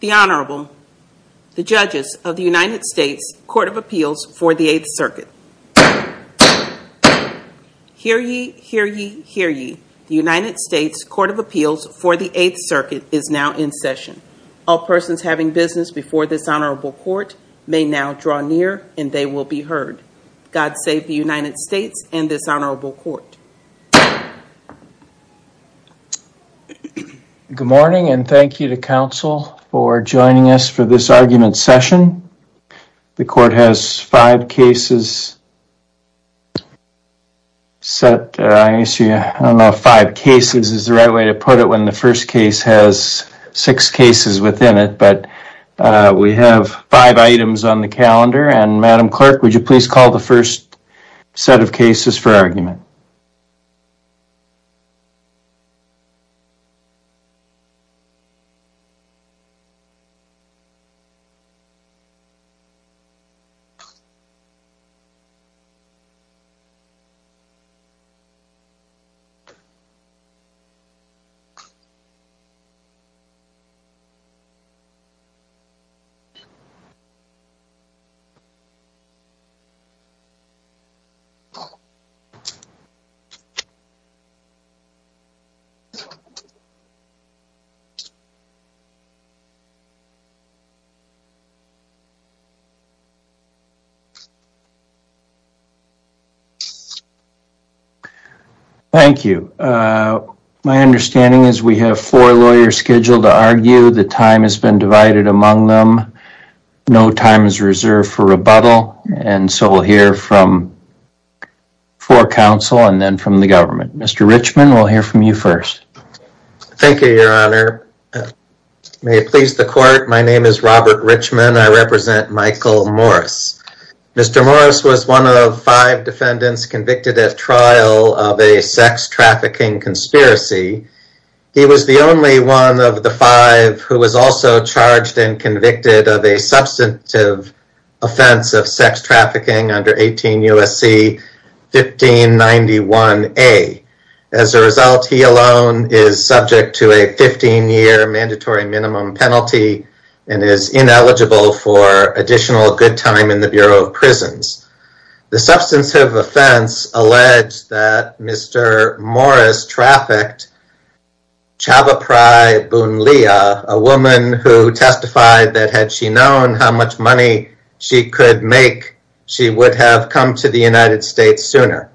The Honorable, the Judges of the United States Court of Appeals for the 8th Circuit. Hear ye, hear ye, hear ye. The United States Court of Appeals for the 8th Circuit is now in session. All persons having business before this Honorable Court may now draw near and they will be heard. God save the United States and this Honorable Court. Good morning and thank you to Council for joining us for this argument session. The Court has five cases set. I don't know if five cases is the right way to put it when the first case has six cases within it. But we have five items on the calendar and Madam Clerk, would you please call the first set of cases for argument? Thank you. My understanding is we have four lawyers scheduled to argue. The time has been divided among them. No time is reserved for rebuttal and so we'll hear from four counsel and then from the government. Mr. Richman, we'll hear from you first. Thank you, Your Honor. May it please the Court, my name is Robert Richman. I represent Michael Morris. Mr. Morris was one of five defendants convicted at trial of a sex trafficking conspiracy. He was the only one of the five who was also charged and convicted of a substantive offense of sex trafficking under 18 U.S.C. 1591A. As a result, he alone is subject to a 15-year mandatory minimum penalty and is ineligible for additional good time in the Bureau of Prisons. The substantive offense alleged that Mr. Morris trafficked a woman who testified that had she known how much money she could make, she would have come to the United States sooner.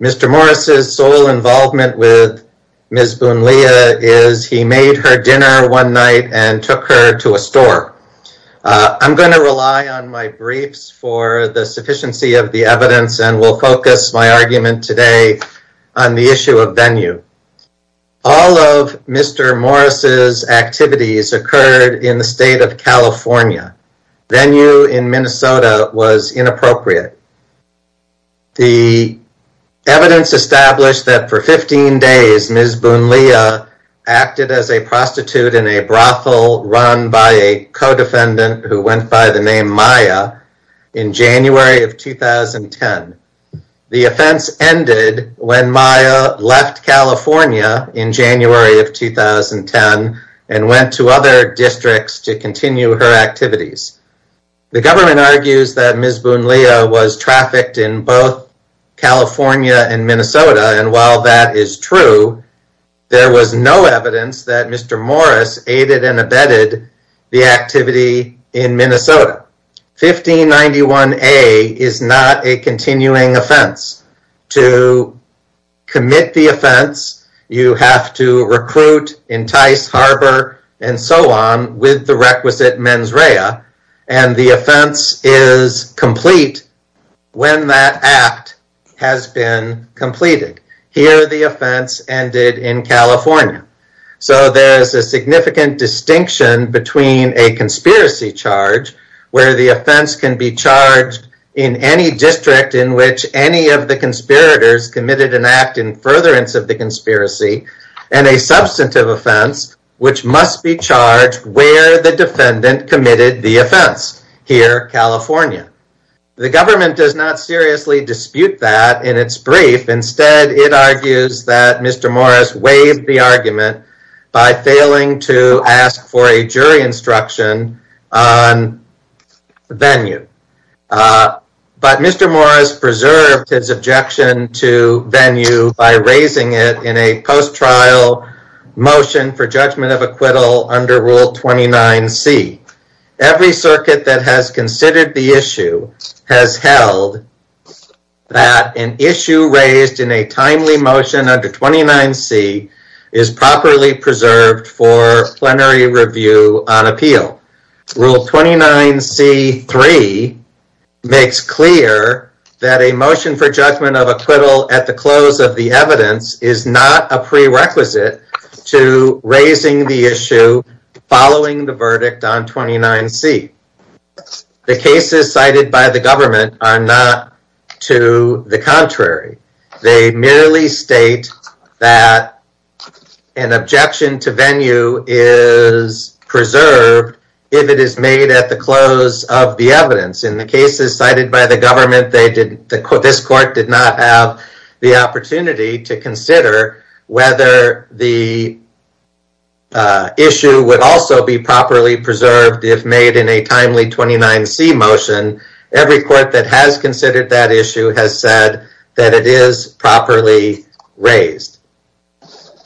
Mr. Morris' sole involvement with Ms. Boonlea is he made her dinner one night and took her to a store. I'm going to rely on my briefs for the sufficiency of the evidence and will focus my argument today on the issue of venue. All of Mr. Morris' activities occurred in the state of California. Venue in Minnesota was inappropriate. The evidence established that for 15 days Ms. Boonlea acted as a prostitute in a brothel run by a co-defendant who went by the name Maya in January of 2010. The offense ended when Maya left California in January of 2010 and went to other districts to continue her activities. The government argues that Ms. Boonlea was trafficked in both California and Minnesota and while that is true, there was no evidence that Mr. Morris aided and abetted the activity in Minnesota. 1591A is not a continuing offense. To commit the offense, you have to recruit, entice, harbor, and so on with the requisite mens rea and the offense is complete when that act has been completed. Here the offense ended in California. So there is a significant distinction between a conspiracy charge where the offense can be charged in any district in which any of the conspirators committed an act in furtherance of the conspiracy and a substantive offense which must be charged where the defendant committed the offense, here California. The government does not seriously dispute that in its brief. Instead, it argues that Mr. Morris waived the argument by failing to ask for a jury instruction on venue. But Mr. Morris preserved his objection to venue by raising it in a post-trial motion for judgment of acquittal under Rule 29C. Every circuit that has considered the issue has held that an issue raised in a timely motion under 29C is properly preserved for plenary review on appeal. Rule 29C.3 makes clear that a motion for judgment of acquittal at the close of the evidence is not a prerequisite to raising the issue following the verdict on 29C. The cases cited by the government are not to the contrary. They merely state that an objection to venue is preserved if it is made at the close of the evidence. In the cases cited by the government, this court did not have the opportunity to consider whether the issue would also be properly preserved if made in a timely 29C motion. Every court that has considered that issue has said that it is properly raised.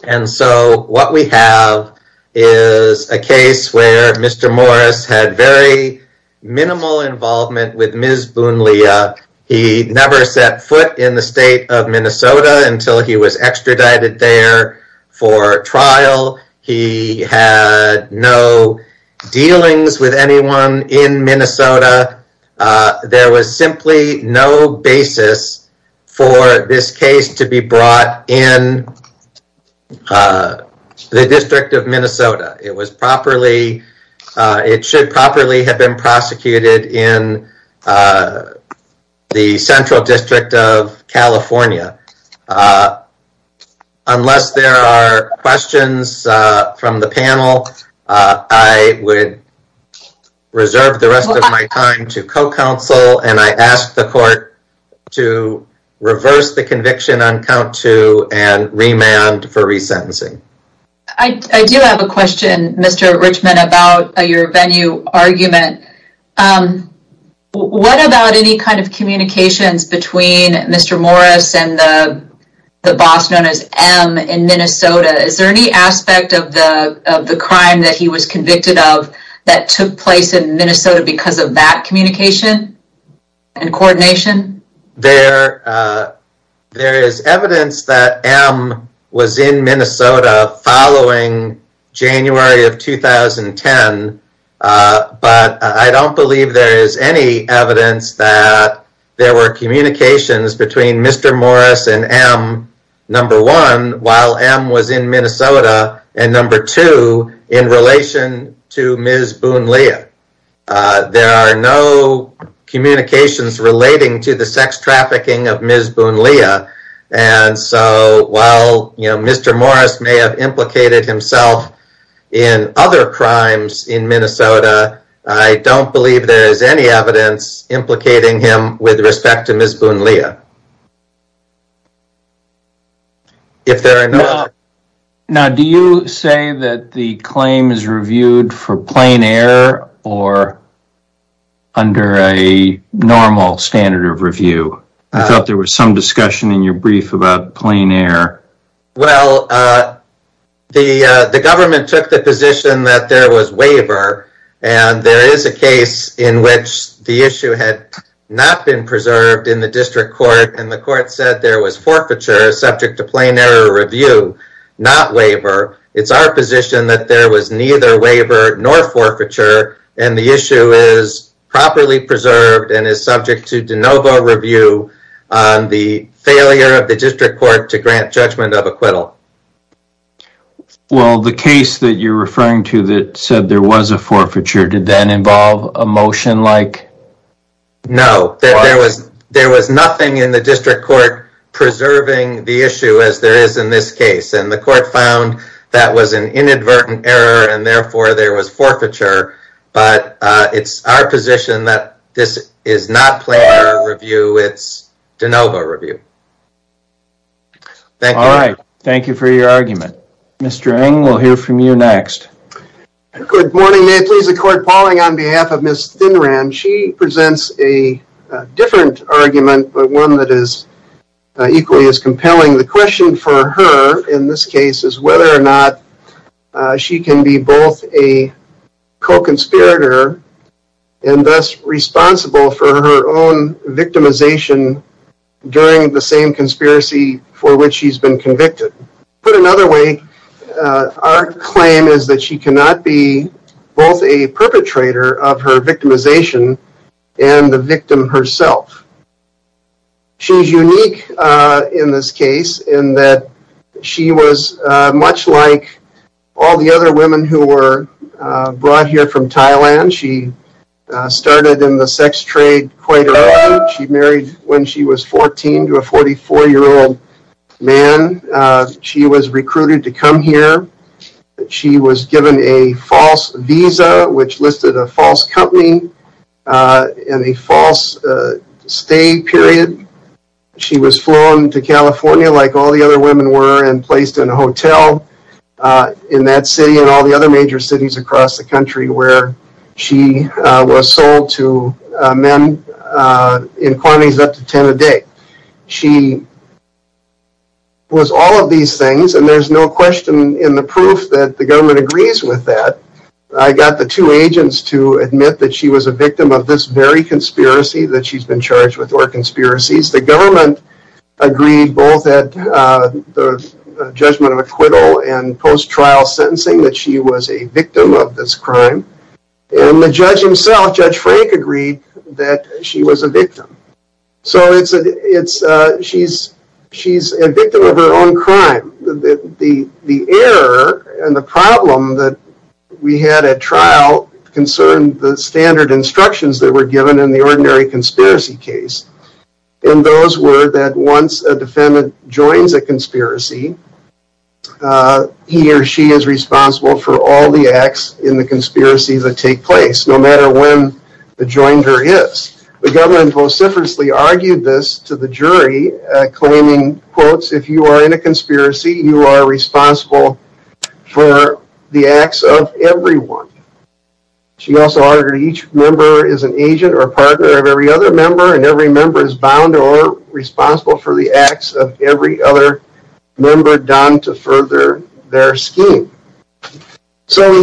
And so what we have is a case where Mr. Morris had very minimal involvement with Ms. Boonlea. He never set foot in the state of Minnesota until he was extradited there for trial. He had no dealings with anyone in Minnesota. There was simply no basis for this case to be brought in the District of Minnesota. It should properly have been prosecuted in the Central District of California. Unless there are questions from the panel, I would reserve the rest of my time to co-counsel and I ask the court to reverse the conviction on count two and remand for resentencing. I do have a question, Mr. Richmond, about your venue argument. What about any kind of communications between Mr. Morris and the boss known as M in Minnesota? Is there any aspect of the crime that he was convicted of that took place in Minnesota because of that communication and coordination? There is evidence that M was in Minnesota following January of 2010. But I don't believe there is any evidence that there were communications between Mr. Morris and M, number one, while M was in Minnesota, and number two, in relation to Ms. Boonlea. There are no communications relating to the sex trafficking of Ms. Boonlea. While Mr. Morris may have implicated himself in other crimes in Minnesota, I don't believe there is any evidence implicating him with respect to Ms. Boonlea. Now, do you say that the claim is reviewed for plain error or under a normal standard of review? I thought there was some discussion in your brief about plain error. Well, the government took the position that there was waiver, and there is a case in which the issue had not been preserved in the district court, and the court said there was forfeiture subject to plain error review, not waiver. It's our position that there was neither waiver nor forfeiture, and the issue is properly preserved and is subject to de novo review on the failure of the district court to grant judgment of acquittal. Well, the case that you're referring to that said there was a forfeiture, did that involve a motion like... No, there was nothing in the district court preserving the issue as there is in this case, and the court found that was an inadvertent error, and therefore there was forfeiture, but it's our position that this is not plain error review, it's de novo review. All right, thank you for your argument. Mr. Ng, we'll hear from you next. Good morning. May it please the court, Pauling, on behalf of Ms. Thinran, she presents a different argument, but one that is equally as compelling. The question for her in this case is whether or not she can be both a co-conspirator and thus responsible for her own victimization during the same conspiracy for which she's been convicted. Put another way, our claim is that she cannot be both a perpetrator of her victimization and the victim herself. She's unique in this case in that she was much like all the other women who were brought here from Thailand. She started in the sex trade quite early. She married when she was 14 to a 44-year-old man. She was recruited to come here. She was given a false visa, which listed a false company and a false stay period. She was flown to California like all the other women were and placed in a hotel in that city and all the other major cities across the country where she was sold to men in quantities up to 10 a day. She was all of these things, and there's no question in the proof that the government agrees with that. I got the two agents to admit that she was a victim of this very conspiracy that she's been charged with, or conspiracies. The government agreed both at the judgment of acquittal and post-trial sentencing that she was a victim of this crime. The judge himself, Judge Frank, agreed that she was a victim. She's a victim of her own crime. The error and the problem that we had at trial concerned the standard instructions that were given in the ordinary conspiracy case. Those were that once a defendant joins a conspiracy, he or she is responsible for all the acts in the conspiracy that take place, no matter when the joiner is. The government vociferously argued this to the jury, claiming, quotes, if you are in a conspiracy, you are responsible for the acts of everyone. She also argued each member is an agent or partner of every other member, and every member is bound or responsible for the acts of every other member done to further their scheme. Did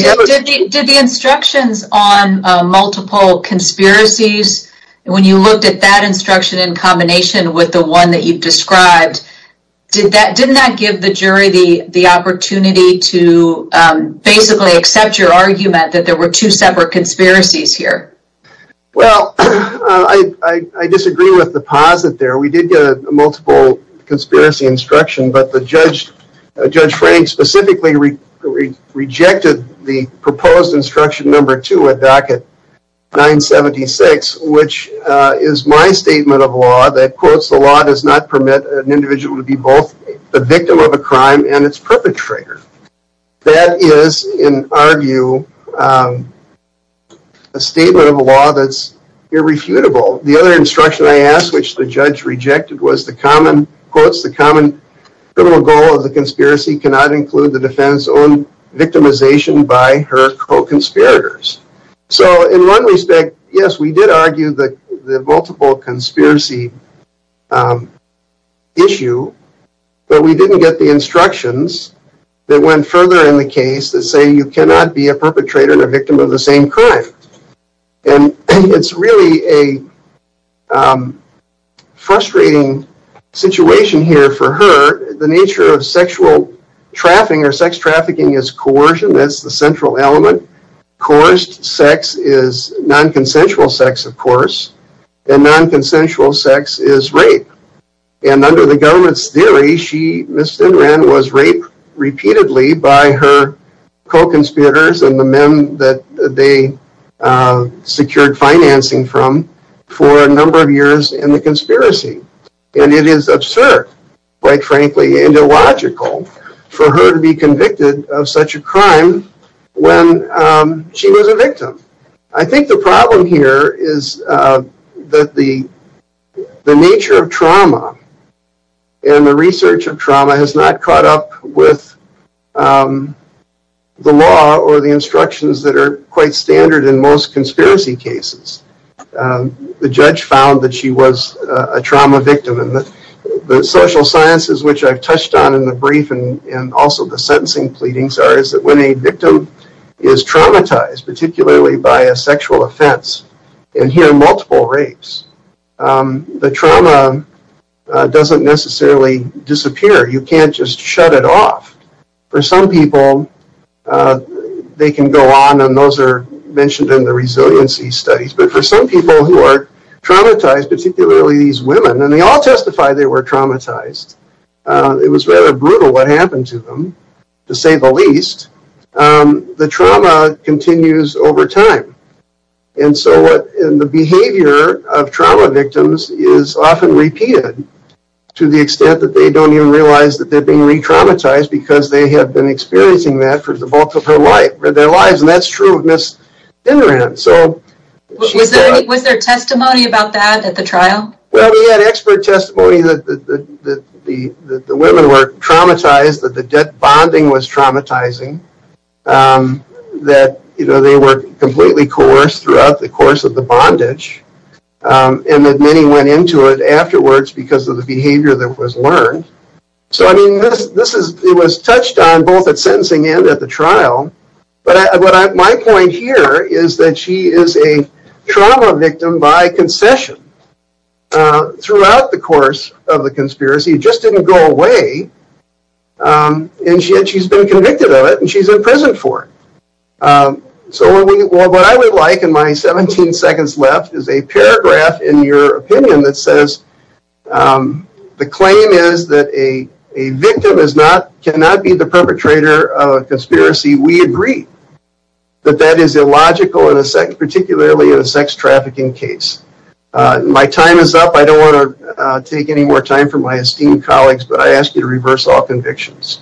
the instructions on multiple conspiracies, when you looked at that instruction in combination with the one that you described, didn't that give the jury the opportunity to basically accept your argument that there were two separate conspiracies here? Well, I disagree with the posit there. We did get a multiple conspiracy instruction, but Judge Frank specifically rejected the proposed instruction number two at docket 976, which is my statement of law that, quotes, the law does not permit an individual to be both a victim of a crime and its perpetrator. That is, in our view, a statement of law that's irrefutable. The other instruction I asked, which the judge rejected, was the common, quotes, the common criminal goal of the conspiracy cannot include the defendant's own victimization by her co-conspirators. So, in one respect, yes, we did argue the multiple conspiracy issue, but we didn't get the instructions that went further in the case that say you cannot be a perpetrator and a victim of the same crime. And it's really a frustrating situation here for her. The nature of sexual trafficking or sex trafficking is coercion, that's the central element. Coerced sex is non-consensual sex, of course, and non-consensual sex is rape. And under the government's theory, Ms. Stinran was raped repeatedly by her co-conspirators and the men that they secured financing from for a number of years in the conspiracy. And it is absurd, quite frankly, and illogical, for her to be convicted of such a crime when she was a victim. I think the problem here is that the nature of trauma and the research of trauma has not caught up with the law or the instructions that are quite standard in most conspiracy cases. The judge found that she was a trauma victim, and the social sciences which I've touched on in the brief and also the sentencing pleadings are that when a victim is traumatized, particularly by a sexual offense, and hear multiple rapes, the trauma doesn't necessarily disappear, you can't just shut it off. For some people, they can go on, and those are mentioned in the resiliency studies, but for some people who are traumatized, particularly these women, and they all testify they were traumatized, it was rather brutal what happened to them, to say the least, the trauma continues over time. And so the behavior of trauma victims is often repeated to the extent that they don't even realize that they're being re-traumatized because they have been experiencing that for the bulk of their lives, and that's true of Ms. Dinneran. Was there testimony about that at the trial? Well, we had expert testimony that the women were traumatized, that the debt bonding was traumatizing, that they were completely coerced throughout the course of the bondage, and that many went into it afterwards because of the behavior that was learned. So I mean, it was touched on both at sentencing and at the trial, but my point here is that she is a trauma victim by concession throughout the course of the conspiracy, it just didn't go away, and she's been convicted of it, and she's in prison for it. So what I would like in my 17 seconds left is a paragraph in your opinion that says the claim is that a victim cannot be the perpetrator of a conspiracy, we agree that that is illogical, particularly in a sex trafficking case. My time is up, I don't want to take any more time from my esteemed colleagues, but I ask you to reverse all convictions.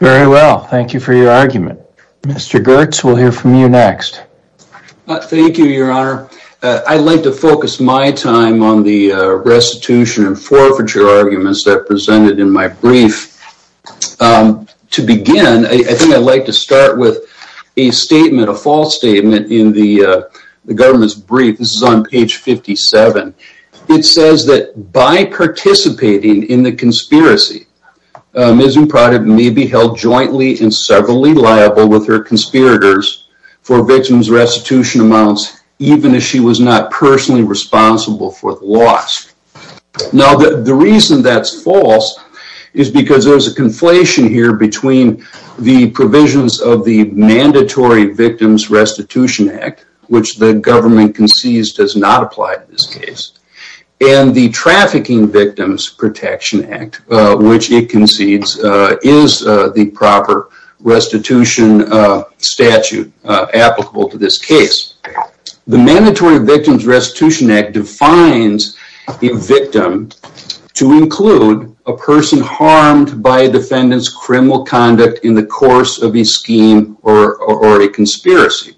Very well, thank you for your argument. Mr. Goertz, we'll hear from you next. Thank you, your honor. I'd like to focus my time on the restitution and forfeiture arguments that are presented in my brief. To begin, I think I'd like to start with a statement, a false statement in the government's brief, this is on page 57. It says that by participating in the conspiracy, Ms. Imprada may be held jointly and severally liable with her conspirators for victim's restitution amounts, even if she was not personally responsible for the loss. Now the reason that's false is because there's a conflation here between the provisions of the Mandatory Victims Restitution Act, which the government concedes does not apply to this case, and the Trafficking Victims Protection Act, which it concedes is the proper restitution statute applicable to this case. The Mandatory Victims Restitution Act defines a victim to include a person harmed by a defendant's criminal conduct in the course of a scheme or a conspiracy.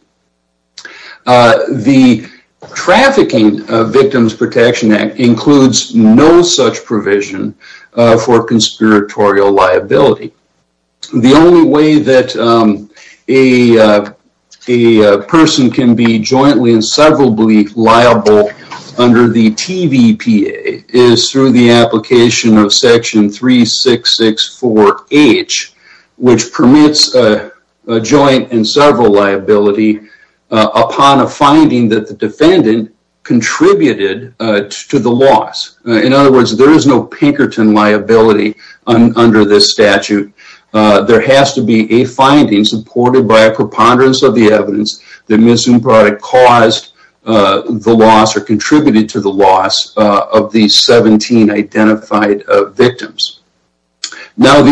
The Trafficking Victims Protection Act includes no such provision for conspiratorial liability. The only way that a person can be jointly and severably liable under the TVPA is through the application of section 3664H, which permits a joint and several liability upon a finding that the defendant contributed to the loss. In other words, there is no Pinkerton liability under this statute. There has to be a finding supported by a preponderance of the evidence that Ms. Imprada contributed to the loss of the 17 identified victims. Now,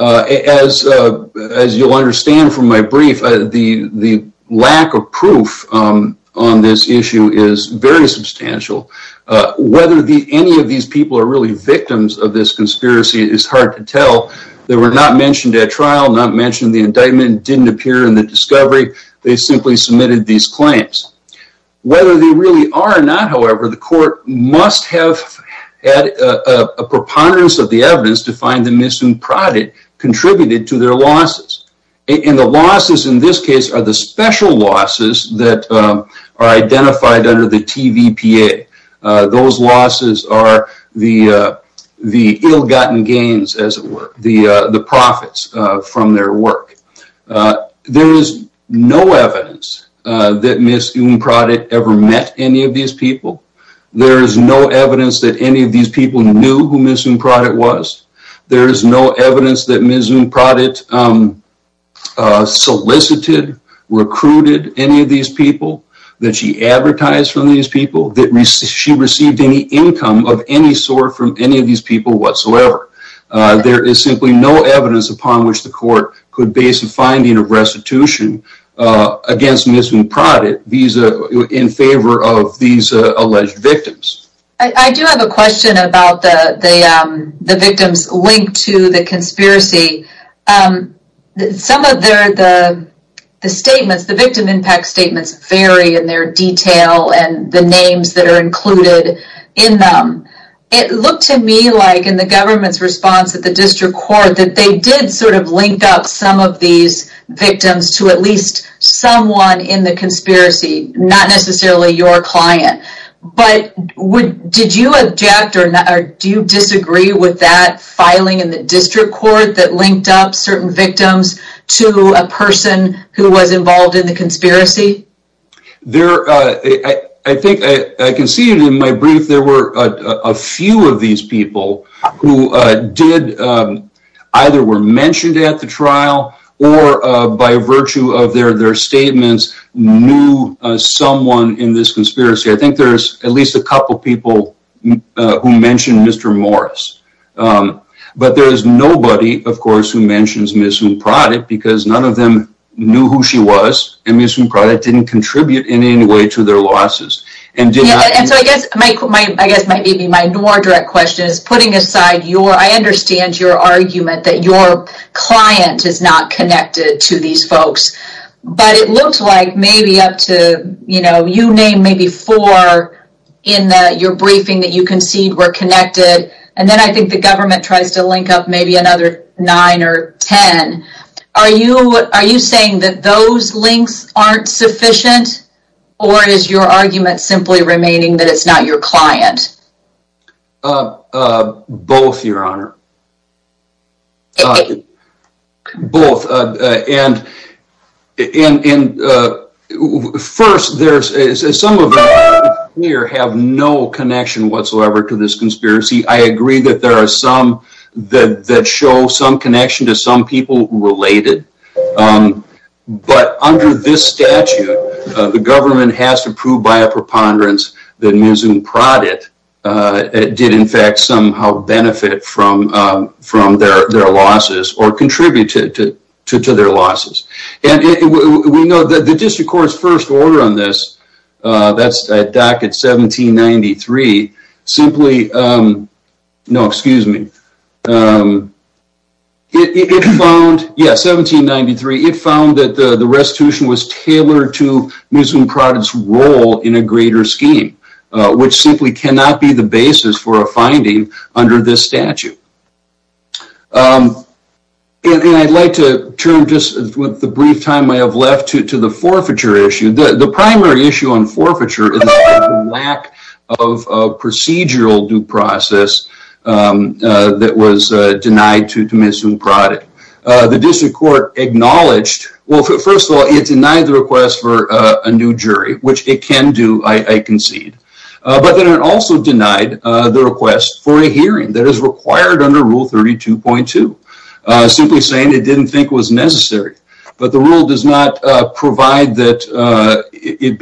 as you'll understand from my brief, the lack of proof on this issue is very substantial. Whether any of these people are really victims of this conspiracy is hard to tell. They were not mentioned at trial, not mentioned in the indictment, didn't appear in the discovery. They simply submitted these claims. Whether they really are or not, however, the court must have had a preponderance of the evidence to find that Ms. Imprada contributed to their losses. And the losses in this case are the special losses that are identified under the TVPA. Those losses are the ill-gotten gains, as it were, the profits from their work. There is no evidence that Ms. Imprada ever met any of these people. There is no evidence that any of these people knew who Ms. Imprada was. There is no evidence that Ms. Imprada solicited, recruited any of these people, that she advertised for these people, that she received any income of any sort from any of these people whatsoever. There is simply no evidence upon which the court could base a finding of restitution against Ms. Imprada in favor of these alleged victims. I do have a question about the victims linked to the conspiracy. Some of the victim impact statements vary in their detail and the names that are included in them. It looked to me like in the government's response at the district court that they did sort of link up some of these victims to at least someone in the conspiracy, not necessarily your client. But did you object or do you disagree with that filing in the district court that linked up certain victims to a person who was involved in the conspiracy? I think I conceded in my brief there were a few of these people who either were mentioned at the trial or by virtue of their statements knew someone in this conspiracy. I think there's at least a couple people who mentioned Mr. Morris. But there is nobody, of course, who mentions Ms. Imprada because none of them knew who she was and Ms. Imprada didn't contribute in any way to their losses. I guess maybe my more direct question is putting aside your, I understand your argument that your client is not connected to these folks. But it looked like maybe up to, you know, you named maybe four in your briefing that you conceded were connected. And then I think the government tries to link up maybe another nine or ten. Are you saying that those links aren't sufficient or is your argument simply remaining that it's not your client? Both, Your Honor. Both. And first, some of them here have no connection whatsoever to this conspiracy. I agree that there are some that show some connection to some people related. But under this statute, the government has to prove by a preponderance that Ms. Imprada did in fact somehow benefit from their losses or contribute to their losses. And we know that the District Court's first order on this, that's a docket 1793, simply, no excuse me. It found, yeah, 1793, it found that the restitution was tailored to Ms. Imprada's role in a greater scheme. Which simply cannot be the basis for a finding under this statute. And I'd like to turn just with the brief time I have left to the forfeiture issue. The primary issue on forfeiture is the lack of procedural due process that was denied to Ms. Imprada. The District Court acknowledged, well, first of all, it denied the request for a new jury, which it can do, I concede. But then it also denied the request for a hearing that is required under Rule 32.2. Simply saying it didn't think it was necessary. But the rule does not provide that it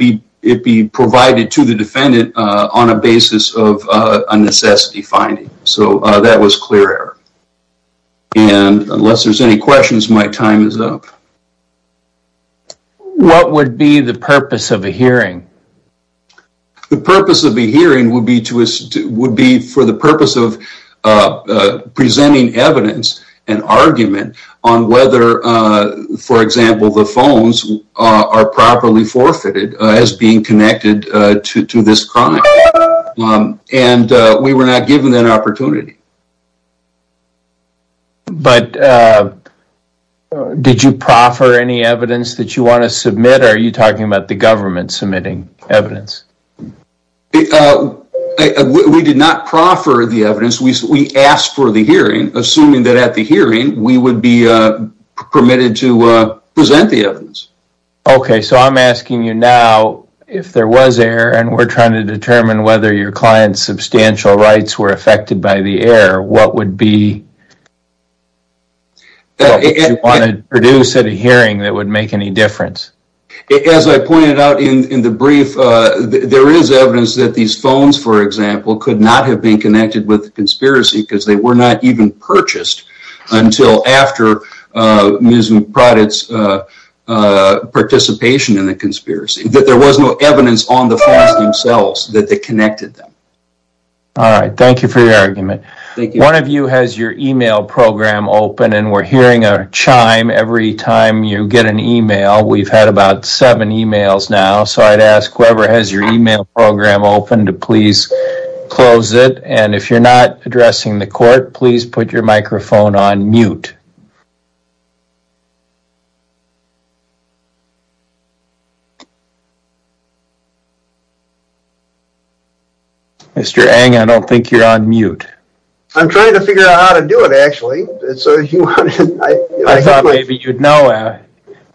be provided to the defendant on a basis of a necessity finding. So that was clear error. And unless there's any questions, my time is up. What would be the purpose of a hearing? The purpose of a hearing would be for the purpose of presenting evidence and argument on whether, for example, the phones are properly forfeited as being connected to this crime. And we were not given that opportunity. But did you proffer any evidence that you want to submit? Are you talking about the government submitting evidence? We did not proffer the evidence. We asked for the hearing, assuming that at the hearing we would be permitted to present the evidence. Okay, so I'm asking you now, if there was error, and we're trying to determine whether your client's substantial rights were affected by the error, what would be the purpose you wanted to produce at a hearing that would make any difference? As I pointed out in the brief, there is evidence that these phones, for example, could not have been connected with the conspiracy because they were not even purchased until after Ms. Proudett's participation in the conspiracy. That there was no evidence on the phones themselves that they connected them. All right, thank you for your argument. One of you has your e-mail program open, and we're hearing a chime every time you get an e-mail. We've had about seven e-mails now, so I'd ask whoever has your e-mail program open to please close it. And if you're not addressing the court, please put your microphone on mute. Mr. Eng, I don't think you're on mute. I'm trying to figure out how to do it, actually. I thought maybe you'd know.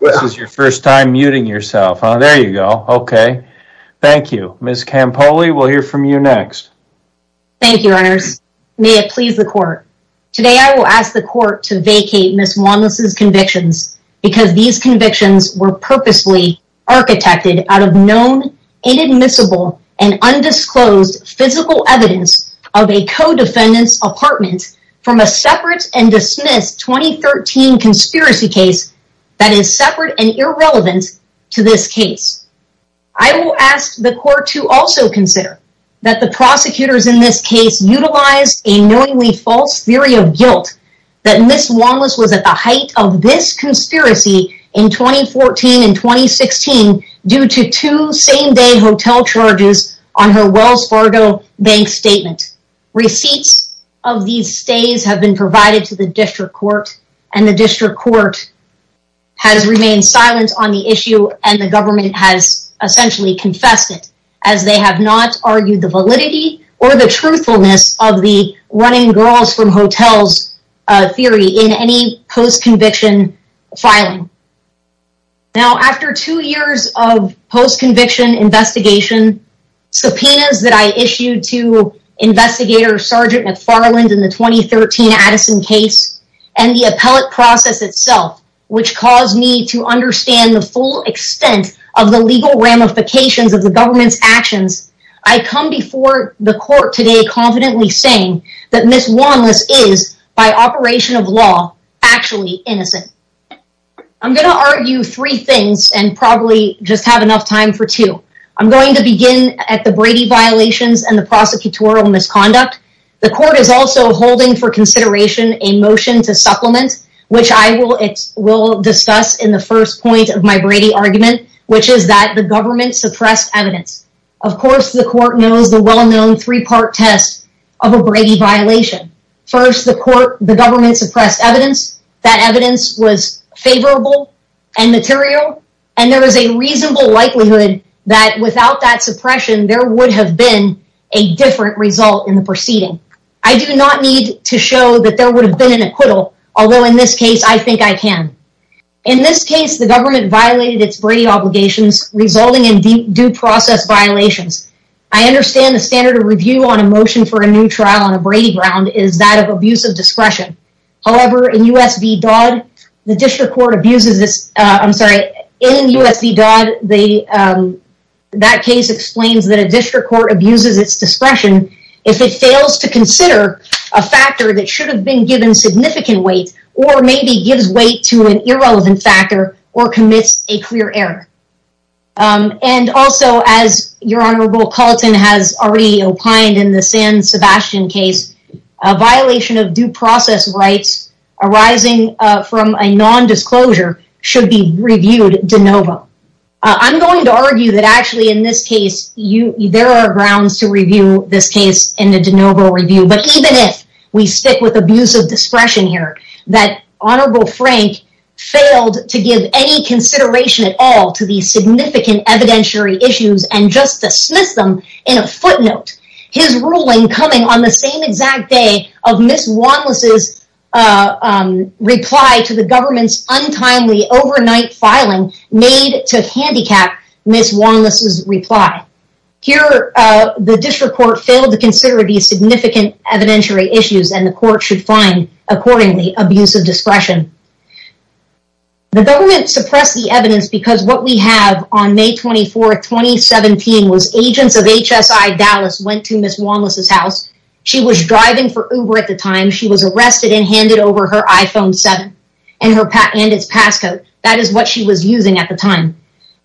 This is your first time muting yourself. There you go. Okay. Thank you. Ms. Campoli, we'll hear from you next. Thank you, Your Honors. May it please the court. Today I will ask the court to vacate Ms. Wanless's convictions because these convictions were purposely architected out of known, inadmissible, and undisclosed physical evidence of a co-defendant's apartment from a separate and dismissed 2013 conspiracy case that is separate and irrelevant to this case. I will ask the court to also consider that the prosecutors in this case utilized a knowingly false theory of guilt that Ms. Wanless was at the height of this conspiracy in 2014 and 2016 due to two same-day hotel charges on her Wells Fargo bank statement. Receipts of these stays have been provided to the district court, and the district court has remained silent on the issue and the government has essentially confessed it as they have not argued the validity or the truthfulness of the running girls from hotels theory in any post-conviction filing. Now, after two years of post-conviction investigation, subpoenas that I issued to Investigator Sergeant McFarland in the 2013 Addison case, and the appellate process itself, which caused me to understand the full extent of the legal ramifications of the government's actions, I come before the court today confidently saying that Ms. Wanless is, by operation of law, actually innocent. I'm going to argue three things and probably just have enough time for two. I'm going to begin at the Brady violations and the prosecutorial misconduct. The court is also holding for consideration a motion to supplement, which I will discuss in the first point of my Brady argument, which is that the government suppressed evidence. Of course, the court knows the well-known three-part test of a Brady violation. First, the government suppressed evidence. That evidence was favorable and material, and there is a reasonable likelihood that without that suppression, there would have been a different result in the proceeding. I do not need to show that there would have been an acquittal, although in this case, I think I can. In this case, the government violated its Brady obligations, resulting in due process violations. I understand the standard of review on a motion for a new trial on a Brady ground is that of abuse of discretion. However, in U.S. v. Dodd, the district court abuses this. I'm sorry. In U.S. v. Dodd, that case explains that a district court abuses its discretion if it fails to consider a factor that should have been given significant weight or maybe gives weight to an irrelevant factor or commits a clear error. Also, as your Honorable Carlton has already opined in the San Sebastian case, a violation of due process rights arising from a non-disclosure should be reviewed de novo. I'm going to argue that actually in this case, there are grounds to review this case in a de novo review. But even if we stick with abuse of discretion here, that Honorable Frank failed to give any consideration at all to these significant evidentiary issues and just dismissed them in a footnote. His ruling coming on the same exact day of Ms. Wanless's reply to the government's untimely overnight filing made to handicap Ms. Wanless's reply. Here, the district court failed to consider these significant evidentiary issues and the court should find, accordingly, abuse of discretion. The government suppressed the evidence because what we have on May 24, 2017 was agents of HSI Dallas went to Ms. Wanless's house. She was driving for Uber at the time. She was arrested and handed over her iPhone 7 and its passcode. That is what she was using at the time.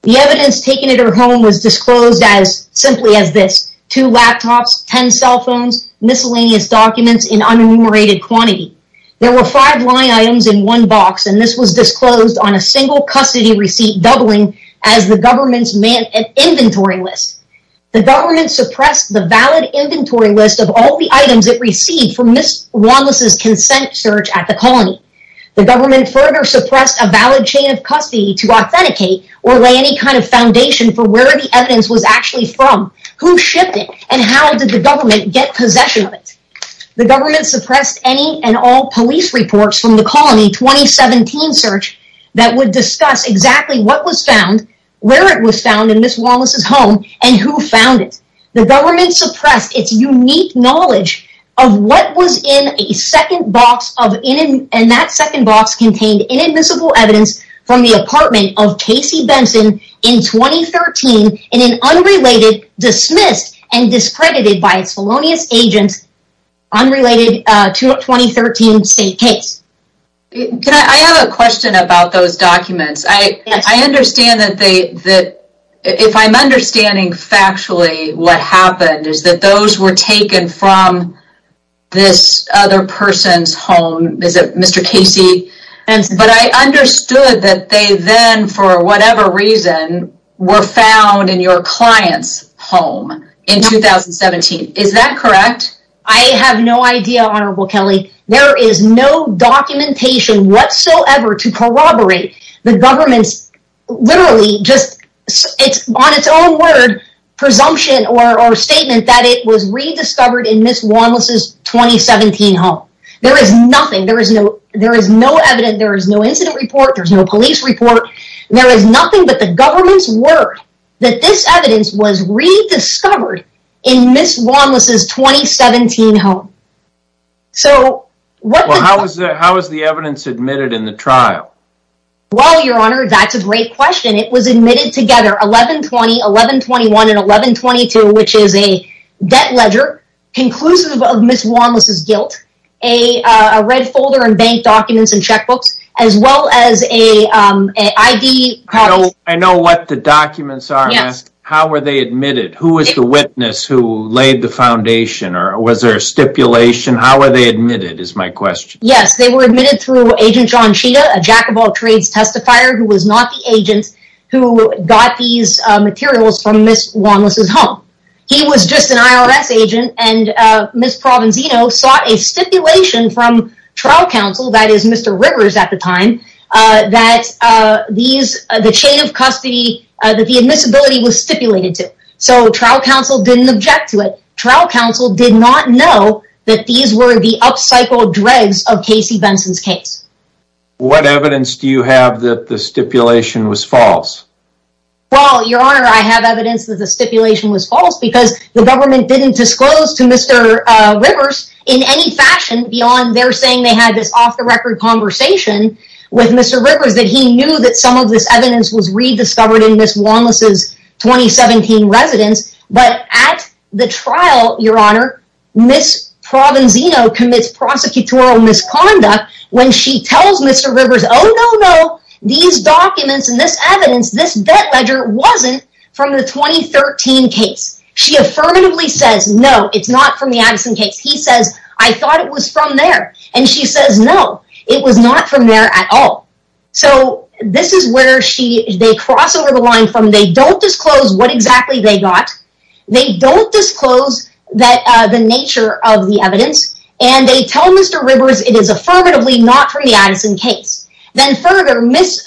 The evidence taken at her home was disclosed simply as this. Two laptops, ten cell phones, miscellaneous documents in unenumerated quantity. There were five lying items in one box, and this was disclosed on a single custody receipt doubling as the government's inventory list. The government suppressed the valid inventory list of all the items it received from Ms. Wanless's consent search at the colony. The government further suppressed a valid chain of custody to authenticate or lay any kind of foundation for where the evidence was actually from. Who shipped it, and how did the government get possession of it? The government suppressed any and all police reports from the colony 2017 search that would discuss exactly what was found, where it was found in Ms. Wanless's home, and who found it. The government suppressed its unique knowledge of what was in a second box and that second box contained inadmissible evidence from the apartment of Casey Benson in 2013 in an unrelated, dismissed, and discredited by its felonious agents unrelated to a 2013 state case. I have a question about those documents. I understand that if I'm understanding factually what happened is that those were taken from this other person's home. Is it Mr. Casey? But I understood that they then, for whatever reason, were found in your client's home in 2017. Is that correct? I have no idea, Honorable Kelly. There is no documentation whatsoever to corroborate the government's literally just, on its own word, presumption or statement that it was rediscovered in Ms. Wanless's 2017 home. There is nothing. There is no evidence. There is no incident report. There is no police report. There is nothing but the government's word that this evidence was rediscovered in Ms. Wanless's 2017 home. How was the evidence admitted in the trial? Well, Your Honor, that's a great question. It was admitted together, 11-20, 11-21, and 11-22, which is a debt ledger conclusive of Ms. Wanless's guilt, a red folder in bank documents and checkbooks, as well as an ID card. I know what the documents are. How were they admitted? Who was the witness who laid the foundation? Was there a stipulation? How were they admitted is my question. Yes, they were admitted through Agent John Cheetah, a Jack of all trades testifier who was not the agent who got these materials from Ms. Wanless's home. He was just an IRS agent, and Ms. Provenzino sought a stipulation from trial counsel, that is, Mr. Rivers at the time, that the chain of custody, that the admissibility was stipulated to. So trial counsel didn't object to it. Trial counsel did not know that these were the upcycled dregs of Casey Benson's case. What evidence do you have that the stipulation was false? Well, Your Honor, I have evidence that the stipulation was false because the government didn't disclose to Mr. Rivers in any fashion beyond their saying they had this off-the-record conversation with Mr. Rivers that he knew that some of this evidence was rediscovered in Ms. Wanless's 2017 residence. But at the trial, Your Honor, Ms. Provenzino commits prosecutorial misconduct when she tells Mr. Rivers, oh, no, no, these documents and this evidence, this debt ledger wasn't from the 2013 case. She affirmatively says, no, it's not from the Addison case. He says, I thought it was from there. And she says, no, it was not from there at all. So this is where they cross over the line from they don't disclose what exactly they got, they don't disclose the nature of the evidence, and they tell Mr. Rivers it is affirmatively not from the Addison case. Then further, Ms.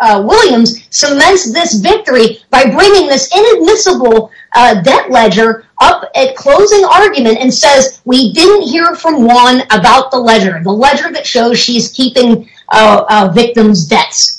Williams cements this victory by bringing this inadmissible debt ledger up at closing argument and says, we didn't hear from Wan about the ledger, the ledger that shows she's keeping a victim's debts.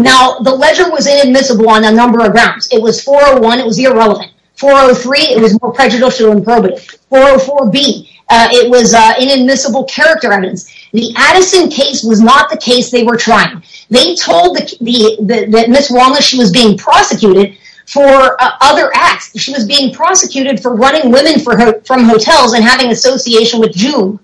Now, the ledger was inadmissible on a number of grounds. It was 401, it was irrelevant. 403, it was more prejudicial and probative. 404B, it was inadmissible character evidence. The Addison case was not the case they were trying. They told Ms. Wallace she was being prosecuted for other acts. She was being prosecuted for running women from hotels and having association with June.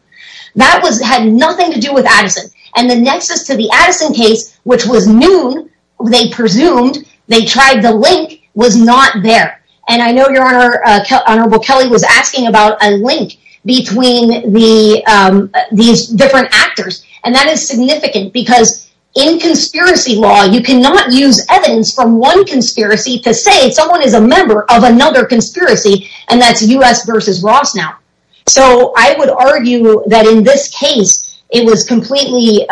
That had nothing to do with Addison. And the nexus to the Addison case, which was noon, they presumed, they tried the link, was not there. And I know your Honor, Honorable Kelly, was asking about a link between these different actors. And that is significant because in conspiracy law, you cannot use evidence from one conspiracy to say someone is a member of another conspiracy and that's U.S. versus Ross now. So I would argue that in this case, it was completely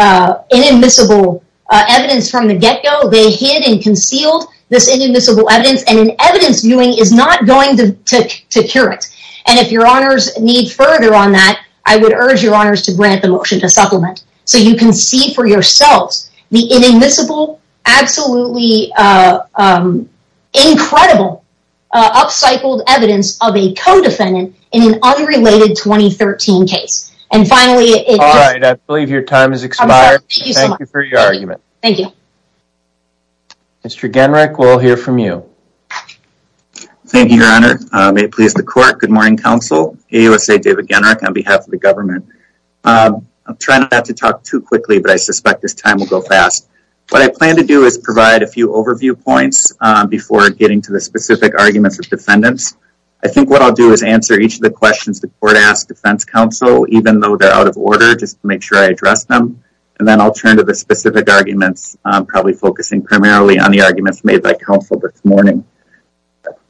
inadmissible evidence from the get-go. They hid and concealed this inadmissible evidence. And an evidence viewing is not going to cure it. And if your Honors need further on that, I would urge your Honors to grant the motion to supplement so you can see for yourselves the inadmissible, absolutely incredible, up-cycled evidence of a co-defendant in an unrelated 2013 case. And finally, it just... All right, I believe your time has expired. I'm sorry. Thank you so much. Thank you for your argument. Thank you. Mr. Genrich, we'll hear from you. Thank you, your Honor. May it please the court. Good morning, counsel. AUSA David Genrich on behalf of the government. I'm trying not to talk too quickly, but I suspect this time will go fast. What I plan to do is provide a few overview points before getting to the specific arguments of defendants. I think what I'll do is answer each of the questions the court asks defense counsel, even though they're out of order, just to make sure I address them. And then I'll turn to the specific arguments, probably focusing primarily on the arguments made by counsel this morning.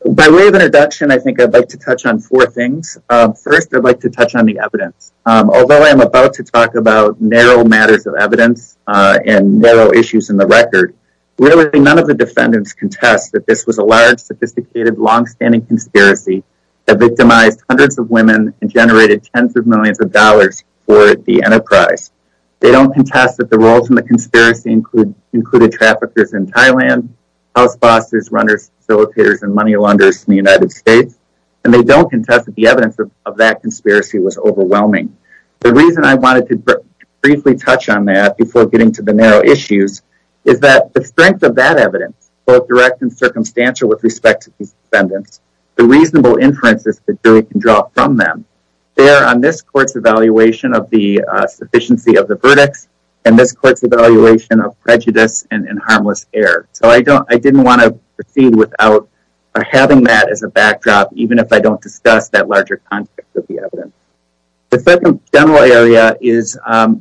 By way of introduction, I think I'd like to touch on four things. First, I'd like to touch on the evidence. Although I'm about to talk about narrow matters of evidence and narrow issues in the record, really none of the defendants contest that this was a large, sophisticated, long-standing conspiracy that victimized hundreds of women and generated tens of millions of dollars for the enterprise. They don't contest that the roles in the conspiracy included traffickers in Thailand, house bosses, runners, facilitators, and money launderers in the United States. And they don't contest that the evidence of that conspiracy was overwhelming. The reason I wanted to briefly touch on that before getting to the narrow issues is that the strength of that evidence, both direct and circumstantial with respect to these defendants, the reasonable inferences that Julie can draw from them, bear on this court's evaluation of the sufficiency of the verdicts and this court's evaluation of prejudice and harmless error. So I didn't want to proceed without having that as a backdrop, even if I don't discuss that larger context of the evidence. The second general area is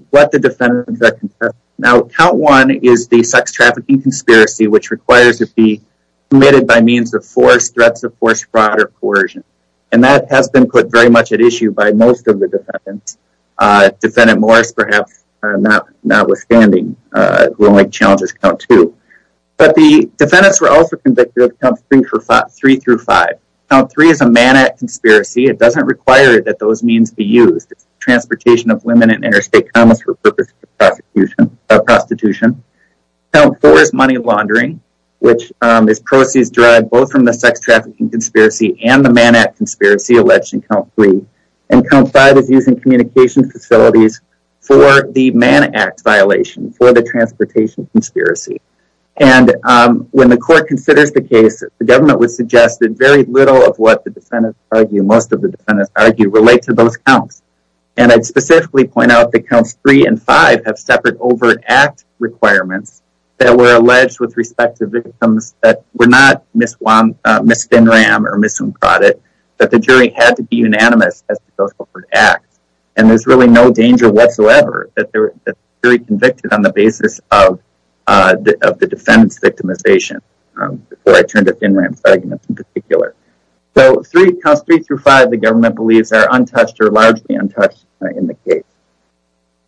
what the defendants contest. Now, count one is the sex trafficking conspiracy, which requires it be committed by means of force, threats of force, fraud, or coercion. And that has been put very much at issue by most of the defendants, defendant Morris perhaps notwithstanding, who only challenges count two. But the defendants were also convicted of count three through five. Count three is a man-at conspiracy. It doesn't require that those means be used. It's the transportation of women in interstate commerce for purposes of prostitution. Count four is money laundering, which is proceeds derived both from the sex trafficking conspiracy and the man-at conspiracy alleged in count three. And count five is using communication facilities for the man-at violation, for the transportation conspiracy. And when the court considers the case, the government would suggest that very little of what the defendants argue, most of the defendants argue, relate to those counts. And I'd specifically point out that counts three and five have separate overt act requirements that were alleged with respect to victims that were not Ms. Thin-Ram or Ms. Woonkradit, that the jury had to be unanimous as to those overt acts. And there's really no danger whatsoever that the jury convicted on the basis of the defendants' victimization, before I turned to Thin-Ram's arguments in particular. So, counts three through five, the government believes, are untouched or largely untouched in the case.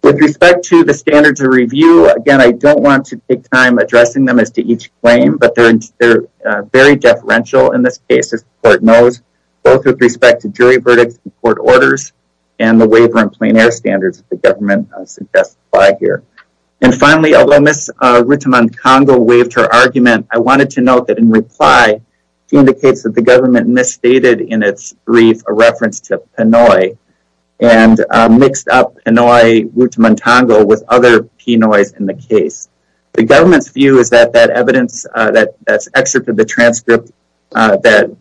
With respect to the standards of review, again, I don't want to take time addressing them as to each claim, but they're very deferential in this case, as the court knows, both with respect to jury verdicts and court orders and the waiver and plein air standards that the government suggests apply here. And finally, although Ms. Rutamantongo waived her argument, I wanted to note that in reply, she indicates that the government misstated in its brief a reference to Pinoy and mixed up Pinoy-Rutamantongo with other Pinoys in the case. The government's view is that that evidence, that excerpt of the transcript that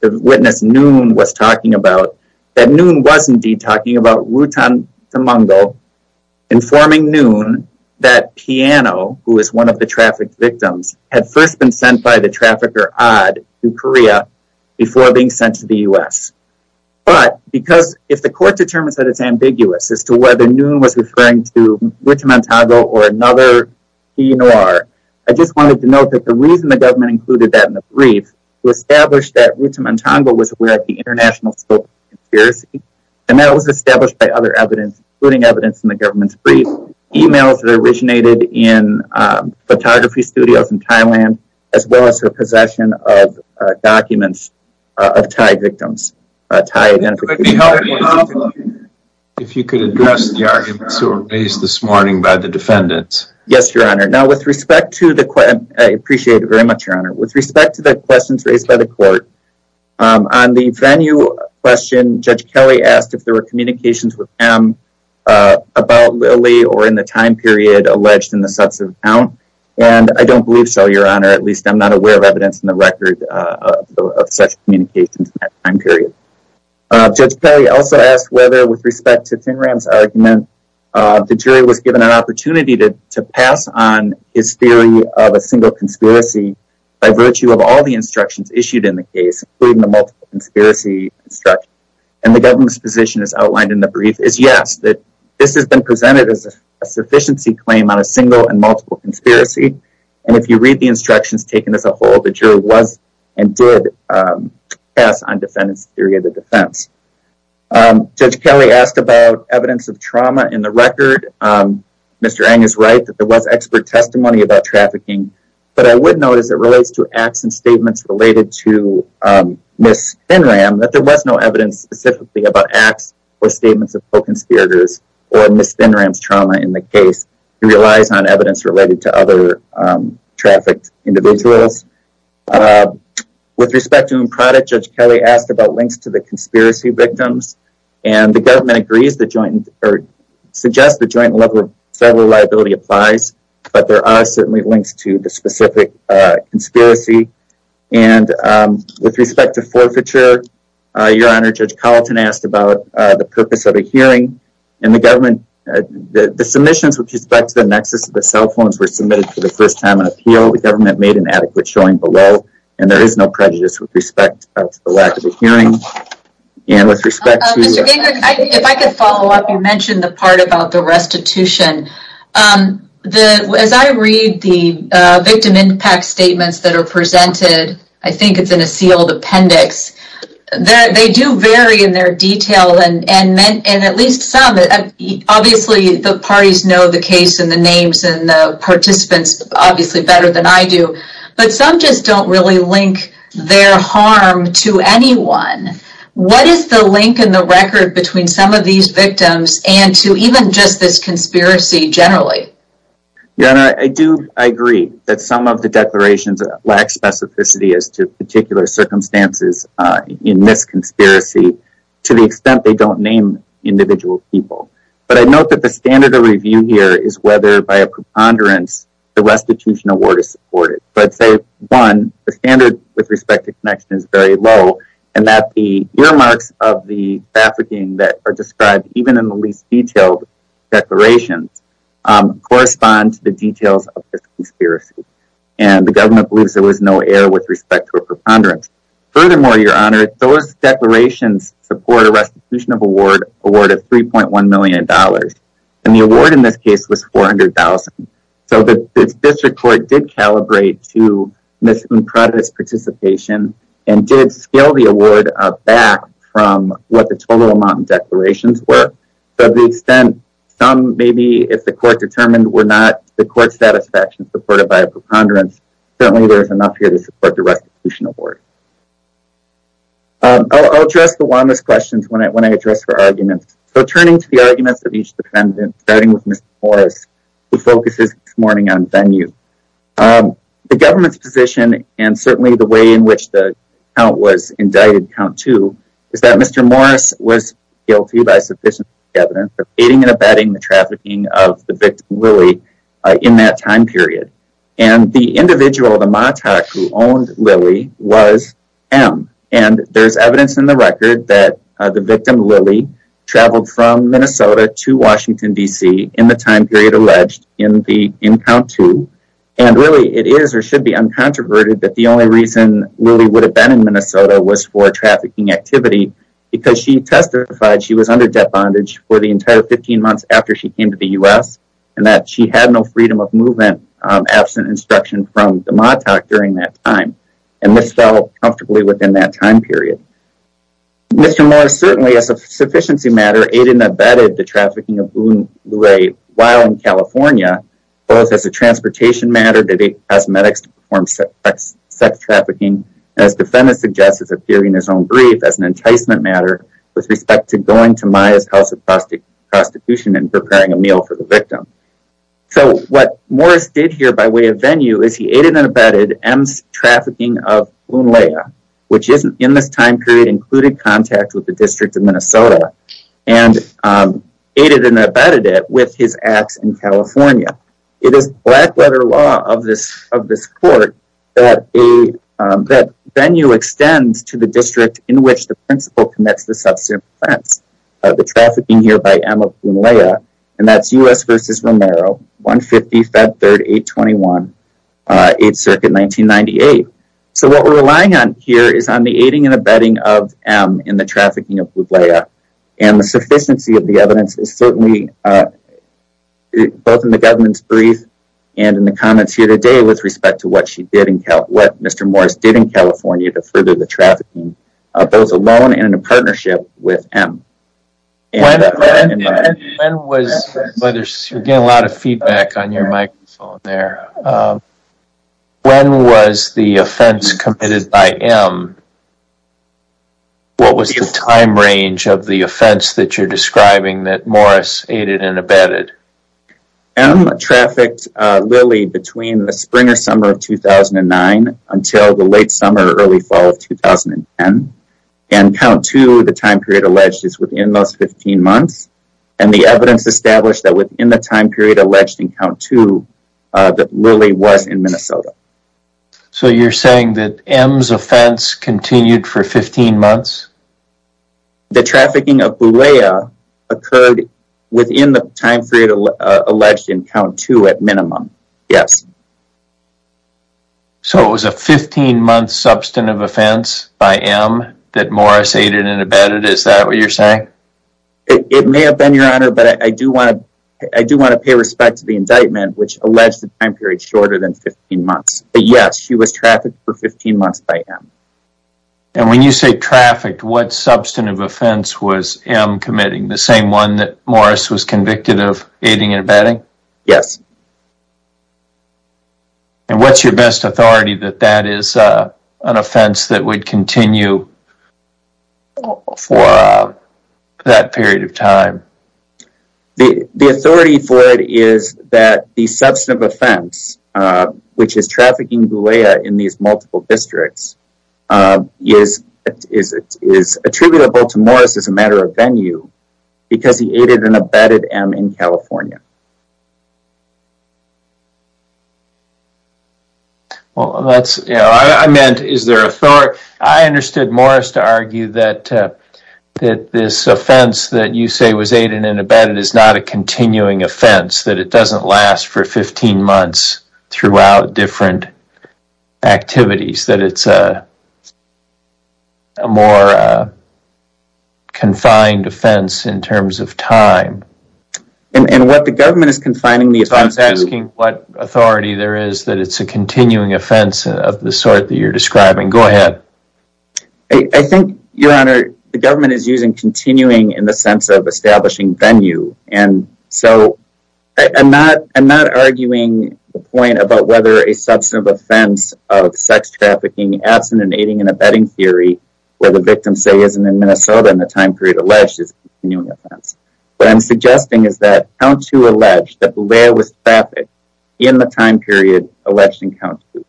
the witness Noon was talking about, that Noon was indeed talking about Rutamantongo informing Noon that Piano, who is one of the trafficked victims, had first been sent by the trafficker Odd to Korea before being sent to the U.S. But, because if the court determines that it's ambiguous as to whether Noon was referring to Rutamantongo or another Pinoy, I just wanted to note that the reason the government included that in the brief was to establish that Rutamantongo was aware of the international scope of conspiracy and that it was established by other evidence, including evidence in the government's brief, emails that originated in photography studios in Thailand, as well as her possession of documents of Thai victims. It would be helpful if you could address the arguments that were raised this morning by the defendants. Yes, Your Honor. Now, with respect to the question, I appreciate it very much, Your Honor. With respect to the questions raised by the court, on the venue question, Judge Kelly asked if there were communications with him about Lily or in the time period alleged in the sets of account, and I don't believe so, Your Honor. At least I'm not aware of evidence in the record of such communications in that time period. Judge Kelly also asked whether, with respect to ThinRam's argument, the jury was given an opportunity to pass on his theory of a single conspiracy by virtue of all the instructions issued in the case, including the multiple conspiracy instruction, and the government's position as outlined in the brief is yes, that this has been presented as a sufficiency claim on a single and multiple conspiracy, and if you read the instructions taken as a whole, the jury was and did pass on defendant's theory of the defense. Judge Kelly asked about evidence of trauma in the record. Mr. Eng is right that there was expert testimony about trafficking, but I would note as it relates to acts and statements related to Ms. ThinRam that there was no evidence specifically about acts or statements of co-conspirators or Ms. ThinRam's trauma in the case. He relies on evidence related to other trafficked individuals. With respect to Improduct, Judge Kelly asked about links to the conspiracy victims, and the government agrees the joint, or suggests the joint level of federal liability applies, but there are certainly links to the specific conspiracy, and with respect to Forfeiture, Your Honor, Judge Colleton asked about the purpose of a hearing, and the government, the submissions with respect to the nexus of the cell phones were submitted for the first time in appeal. The government made an adequate showing below, and there is no prejudice with respect to the lack of a hearing, and with respect to- Mr. Gingrich, if I could follow up, you mentioned the part about the restitution. As I read the victim impact statements that are presented, I think it's in a sealed appendix, they do vary in their detail, and at least some, obviously the parties know the case, and the names, and the participants obviously better than I do, but some just don't really link their harm to anyone. What is the link in the record between some of these victims, and to even just this conspiracy generally? Your Honor, I do agree, that some of the declarations lack specificity as to particular circumstances in this conspiracy, to the extent they don't name individual people. But I note that the standard of review here is whether, by a preponderance, the restitution award is supported. So I'd say, one, the standard with respect to connection is very low, and that the earmarks of the trafficking that are described, even in the least detailed declarations, correspond to the details of this conspiracy. And the government believes there was no error with respect to a preponderance. Furthermore, Your Honor, those declarations support a restitution of award of $3.1 million. And the award in this case was $400,000. So the district court did calibrate to Ms. Unprada's participation, and did scale the award back from what the total amount of declarations were. To the extent, some maybe, if the court determined, were not the court's satisfaction supported by a preponderance, certainly there is enough here to support the restitution award. I'll address the one of those questions when I address her arguments. So turning to the arguments of each defendant, starting with Mr. Morris, who focuses this morning on venue. The government's position, and certainly the way in which the count was indicted, count two, is that Mr. Morris was guilty by sufficient evidence of aiding and abetting the trafficking of the victim, Lily, in that time period. And the individual, the MOTOC, who owned Lily, was M. And there's evidence in the record that the victim, Lily, traveled from Minnesota to Washington, D.C., in the time period alleged in count two. And really, it is, or should be, uncontroverted that the only reason Lily would have been in Minnesota was for trafficking activity, because she testified she was under debt bondage for the entire 15 months after she came to the U.S., and that she had no freedom of movement absent instruction from the MOTOC during that time. And this fell comfortably within that time period. Mr. Morris certainly, as a sufficiency matter, aided and abetted the trafficking of Lily while in California, both as a transportation matter that he asked medics to perform sex trafficking, and as defendants suggested, appearing in his own brief, as an enticement matter with respect to going to Maya's house of prostitution and preparing a meal for the victim. So what Morris did here by way of venue is he aided and abetted M's trafficking of Lunlea, which in this time period included contact with the District of Minnesota, and aided and abetted it with his acts in California. It is black-letter law of this court that venue extends to the district in which the principal commits the subsequent offense, the trafficking here by M of Lunlea, and that's U.S. v. Romero, 150 Feb. 3, 821, 8th Circuit, 1998. So what we're relying on here is on the aiding and abetting of M in the trafficking of Lunlea, and the sufficiency of the evidence is certainly both in the government's brief and in the comments here today with respect to what Mr. Morris did in California to further the trafficking, both alone and in a partnership with M. When was... You're getting a lot of feedback on your microphone there. When was the offense committed by M? What was the time range of the offense that you're describing that Morris aided and abetted? M trafficked Lunlea between the spring or summer of 2009 until the late summer, early fall of 2010, and Count 2, the time period alleged, is within those 15 months, and the evidence established that within the time period alleged in Count 2 that really was in Minnesota. So you're saying that M's offense continued for 15 months? The trafficking of Lunlea occurred within the time period alleged in Count 2 at minimum, yes. So it was a 15-month substantive offense by M that Morris aided and abetted? Is that what you're saying? It may have been, Your Honor, but I do want to pay respect to the indictment which alleged the time period shorter than 15 months. But yes, she was trafficked for 15 months by M. And when you say trafficked, what substantive offense was M committing, the same one that Morris was convicted of aiding and abetting? Yes. And what's your best authority that that is an offense that would continue for that period of time? The authority for it is that the substantive offense, which is trafficking Lunlea in these multiple districts, is attributable to Morris as a matter of venue because he aided and abetted M in California. Well, that's, you know, I meant, is there authority? I understood Morris to argue that this offense that you say was aided and abetted is not a continuing offense, that it doesn't last for 15 months throughout different activities, that it's a more confined offense in terms of time. And what the government is confining the offense to... I was asking what authority there is that it's a continuing offense of the sort that you're describing. Go ahead. I think, Your Honor, the government is using continuing And so I'm not arguing the point about whether a substantive offense of sex trafficking absent in aiding and abetting theory where the victim, say, isn't in Minnesota in the time period alleged is a continuing offense. What I'm suggesting is that count two alleged that Lunlea was trafficked in the time period alleged in count two.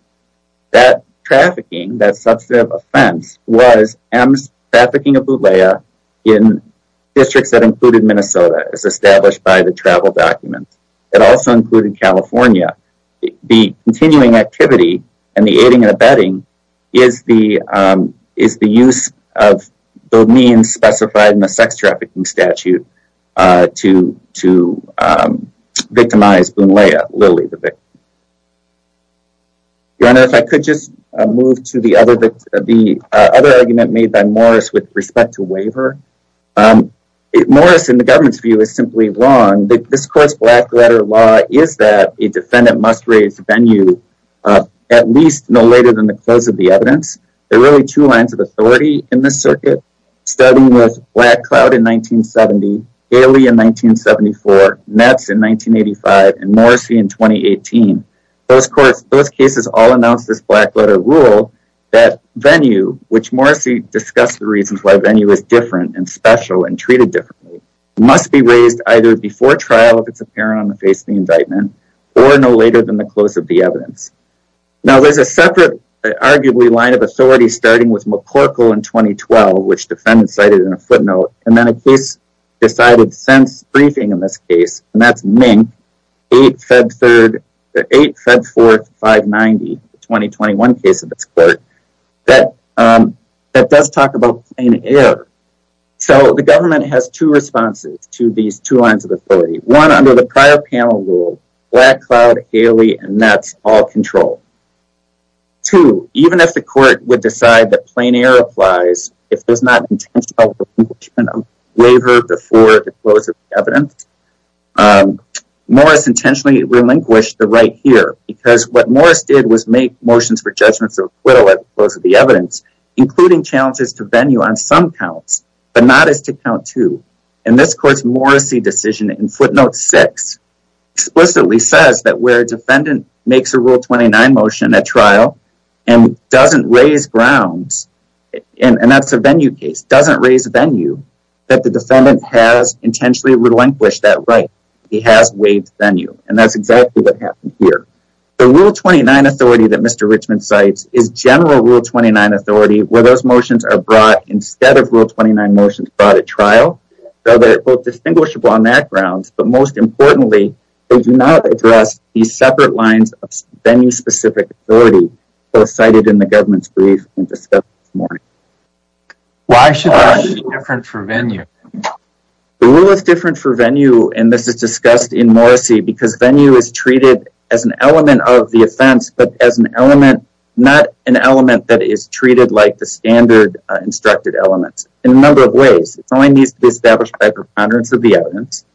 That trafficking, that substantive offense, was M's trafficking of Lunlea in districts that included Minnesota as established by the travel document. It also included California. The continuing activity and the aiding and abetting is the use of the means specified in the sex trafficking statute to victimize Lunlea, Lily, the victim. Your Honor, if I could just move to the other... the other argument made by Morris with respect to waiver. Morris, in the government's view, is simply wrong. This court's black-letter law is that a defendant must raise venue at least no later than the close of the evidence. There are really two lines of authority in this circuit, starting with Black Cloud in 1970, Haley in 1974, Metz in 1985, and Morrissey in 2018. Those courts, those cases, all announced this black-letter rule that venue, which Morrissey discussed the reasons why venue is different and special and treated differently, must be raised either before trial if it's apparent on the face of the indictment or no later than the close of the evidence. Now, there's a separate, arguably, line of authority starting with McCorkle in 2012, which defendants cited in a footnote, and then a case decided since briefing in this case, and that's Mink, 8 Feb 3rd... 8 Feb 4th, 590, the 2021 case of this court, that does talk about plain error. So, the government has two responses to these two lines of authority. One, under the prior panel rule, Black Cloud, Haley, and Metz all control. Two, even if the court would decide that plain error applies, if there's not intentional relinquishment of waiver before the close of the evidence, Morris intentionally relinquished the right here, because what Morris did was make motions for judgments of acquittal at the close of the evidence, including challenges to venue on some counts, but not as to count to. And this court's Morrissey decision in footnote 6 explicitly says that where a defendant makes a Rule 29 motion at trial and doesn't raise grounds, and that's a venue case, doesn't raise venue, that the defendant has intentionally relinquished that right. He has waived venue. And that's exactly what happened here. The Rule 29 authority that Mr. Richmond cites is general Rule 29 authority, where those motions are brought instead of Rule 29 motions brought at trial. So they're both distinguishable on that grounds, but most importantly, they do not address these separate lines of venue-specific authority, both cited in the government's brief and discussed this morning. Why should the rule be different for venue? The rule is different for venue, and this is discussed in Morrissey, because venue is treated as an element of the offense, but as an element, not an element that is treated like the standard instructed elements in a number of ways. It only needs to be established by preponderance of the evidence.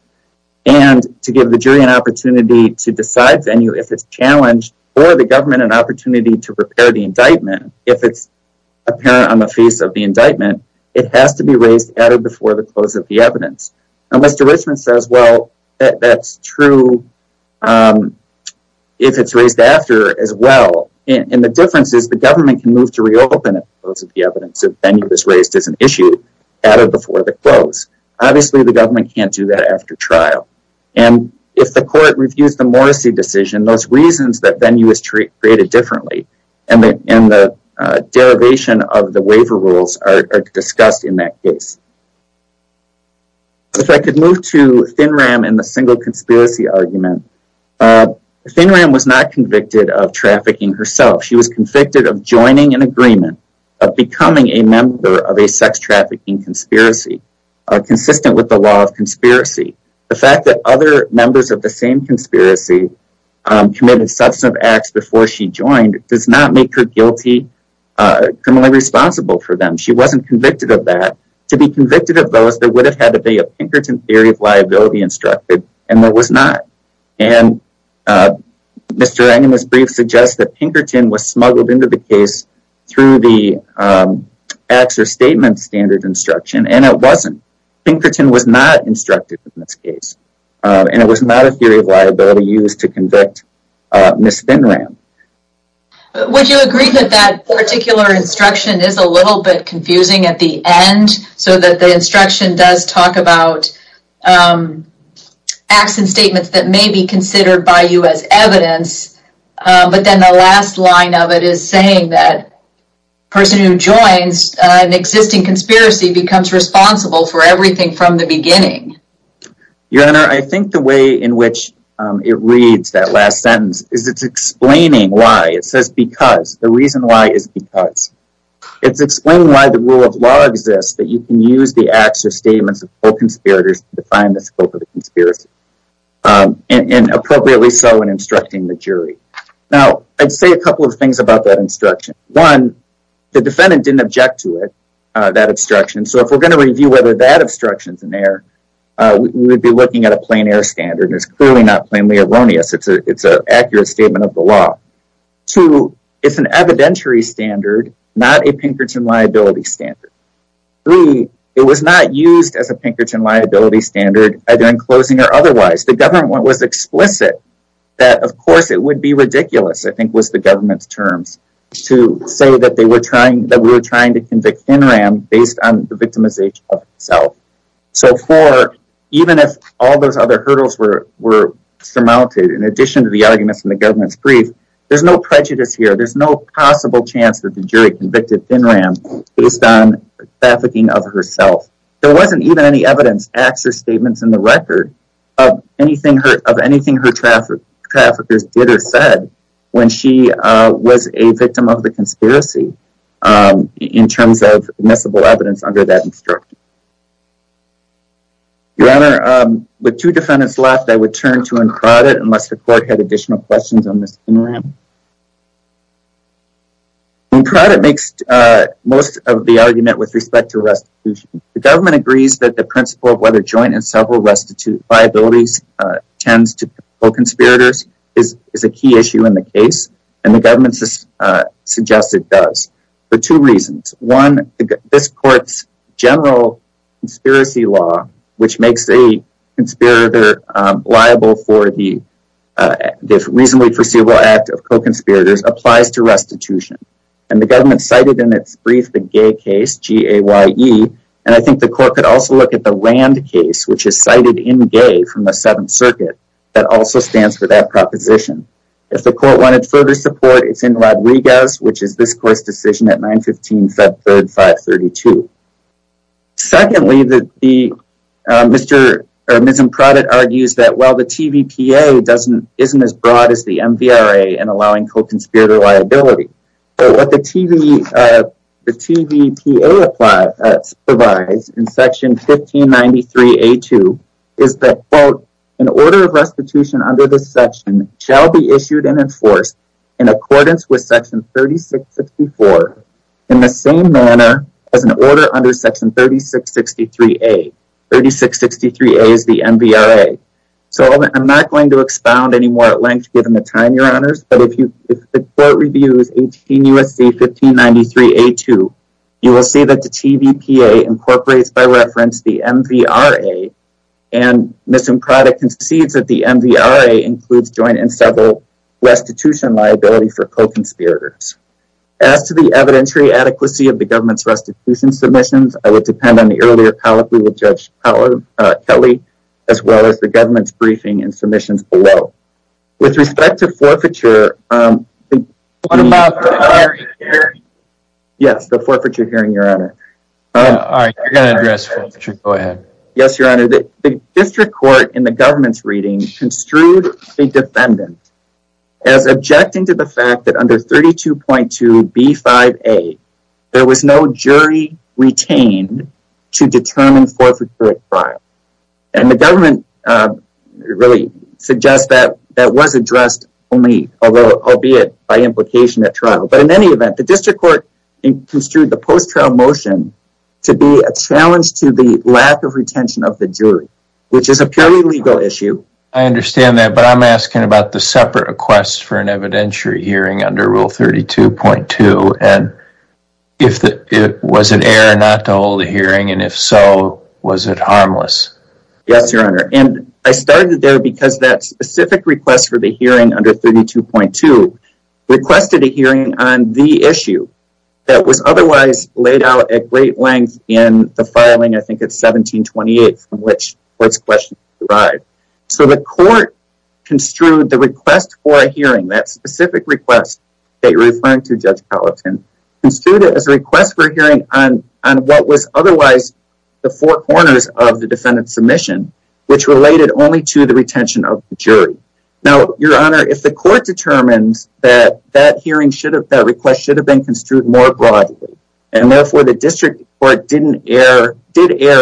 And to give the jury an opportunity to decide venue if it's challenged or the government an opportunity to repair the indictment if it's apparent on the face of the indictment, it has to be raised at or before the close of the evidence. And Mr. Richmond says, well, that's true if it's raised after as well. And the difference is the government can move to reopen it as opposed to the evidence if venue is raised as an issue at or before the close. Obviously, the government can't do that after trial. And if the court reviews the Morrissey decision, those reasons that venue is treated differently and the derivation of the waiver rules are discussed in that case. If I could move to ThinRam in the single conspiracy argument, ThinRam was not convicted of trafficking herself. She was convicted of joining an agreement of becoming a member of a sex trafficking conspiracy consistent with the law of conspiracy. The fact that other members of the same conspiracy committed substantive acts before she joined does not make her guilty or criminally responsible for them. She wasn't convicted of that To be convicted of those, there would have had to be a Pinkerton Theory of Liability instructed, and there was not. And Mr. Eng in his brief suggests that Pinkerton was smuggled into the case through the acts or statements standard instruction, and it wasn't. Pinkerton was not instructed in this case, and it was not a theory of liability used to convict Ms. ThinRam. Would you agree that that particular instruction is a little bit confusing at the end so that the instruction does talk about acts and statements that may be considered by you as evidence, but then the last line of it is saying that a person who joins an existing conspiracy becomes responsible for everything from the beginning? Your Honor, I think the way in which it reads that last sentence is it's explaining why. It says because. The reason why is because. It's explaining why the rule of law exists, that you can use the acts or statements of all conspirators to define the scope of the conspiracy. And appropriately so in instructing the jury. Now, I'd say a couple of things about that instruction. One, the defendant didn't object to it, that instruction, so if we're going to review whether that instruction's in there, we'd be looking at a plain air standard. It's clearly not plainly erroneous. It's an accurate statement of the law. Two, it's an evidentiary standard, not a Pinkerton liability standard. Three, it was not used as a Pinkerton liability standard, either in closing or otherwise. The government was explicit that, of course, it would be ridiculous, I think was the government's terms, to say that we were trying to convict NRAM based on the victimization of itself. So four, even if all those other hurdles were surmounted, in addition to the arguments in the government's brief, there's no prejudice here. There's no possible chance that the jury convicted NRAM based on trafficking of herself. There wasn't even any evidence, acts or statements in the record of anything her traffickers did or said when she was a victim of the conspiracy in terms of admissible evidence under that instruction. Your Honor, with two defendants left, I would turn to Imprada unless the court had additional questions on this. Imprada makes most of the argument with respect to restitution. The government agrees that the principle of whether joint and several restitute liabilities tends to conspirators is a key issue in the case, and the government suggests it does for two reasons. One, this court's general conspiracy law, which makes a conspirator liable for the reasonably foreseeable act of co-conspirators, applies to restitution. And the government cited in its brief the GAY case, G-A-Y-E, and I think the court could also look at the RAND case, which is cited in GAY from the Seventh Circuit, that also stands for that proposition. If the court wanted further support, it's in Rodriguez, which is this court's decision at 9-15, Feb. 3, 532. Secondly, Mr. Imprada argues that, well, the TVPA isn't as broad as the MVRA in allowing co-conspirator liability. What the TVPA provides in Section 1593-A-2 is that, quote, an order of restitution under this section shall be issued and enforced in accordance with Section 3664 in the same manner as an order under Section 3663-A. 3663-A is the MVRA. So, I'm not going to expound any more at length given the time, Your Honors, but if you if the court reviews 18 U.S.C. 1593-A-2, you will see that the TVPA incorporates, by reference, the MVRA and Mr. Imprada concedes that the MVRA includes joint and several restitution liability for co-conspirators. As to the evidentiary adequacy of the government's restitution submissions, I would depend on the earlier colloquy with Judge Kelley as well as the government's briefing and submissions below. With respect to forfeiture, the... Yes, the forfeiture hearing, Your Honor. You're going to address forfeiture. Go ahead. Yes, Your Honor. The district court in the government's reading construed a defendant as objecting to the fact that under 32.2B5A there was no jury retained to determine forfeiture at trial. And the government really suggests that that was addressed only, albeit by implication at trial, but in any event, the district court construed the post-trial motion to be a challenge to the lack of retention of the jury, which is a purely legal issue. I understand that, but I'm asking about the rule 32.2, and if it was an error not to hold a hearing, and if so, was it harmless? Yes, Your Honor. And I started there because that specific request for the hearing under 32.2 requested a hearing on the issue that was otherwise laid out at great length in the filing, I think it's 1728, from which court's questions derived. So the court construed the request for a hearing, that specific request that you're referring to, Judge Gallatin, construed it as a request for a hearing on what was otherwise the four corners of the defendant's submission, which related only to the retention of the jury. Now, Your Honor, if the court determines that that request should have been construed more broadly, and therefore the district court did err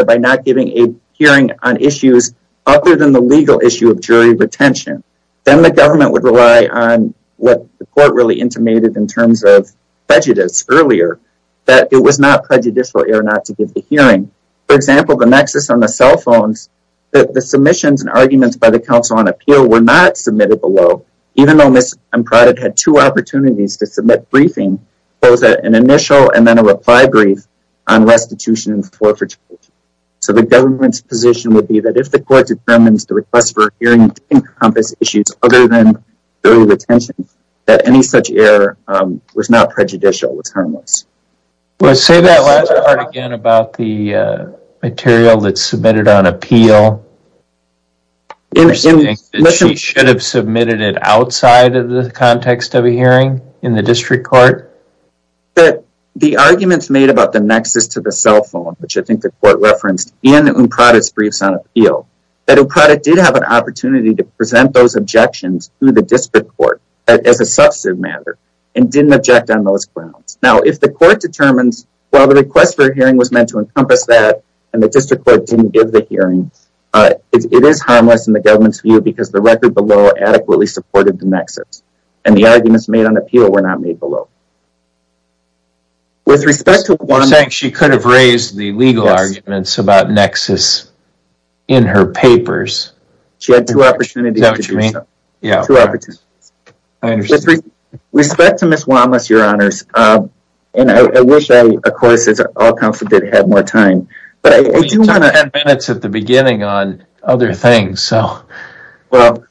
by not giving a hearing on issues other than the legal issue of jury retention, then the government would rely on what the court really intimated in terms of prejudice earlier, that it was not prejudicial error not to give the hearing. For example, the nexus on the cell phones, the submissions and arguments by the Council on Appeal were not submitted below, even though Ms. Amprada had two opportunities to submit briefing, both an initial and then a reply brief on restitution and forfeiture. So the government's position would be that if the court determines the request for a hearing encompass issues other than jury retention, that any such error was not prejudicial, was harmless. Well, say that last part again about the material that's submitted on appeal. Interesting. She should have submitted it outside of the context of a hearing in the district court? The arguments made about the nexus to the cell phone, which I think the court referenced, and Amprada's did have an opportunity to present those objections to the district court as a substantive matter, and didn't object on those grounds. Now, if the court determines, well, the request for a hearing was meant to encompass that, and the district court didn't give the hearing, it is harmless in the government's view because the record below adequately supported the nexus, and the arguments made on appeal were not made below. With respect to one... You're saying she could have raised the legal arguments about nexus in her papers? She had two opportunities to do so. Two opportunities. With respect to Ms. Wanless, Your Honors, and I wish I, of course, had more time, but I do want to... You had ten minutes at the beginning on other things, so... Well,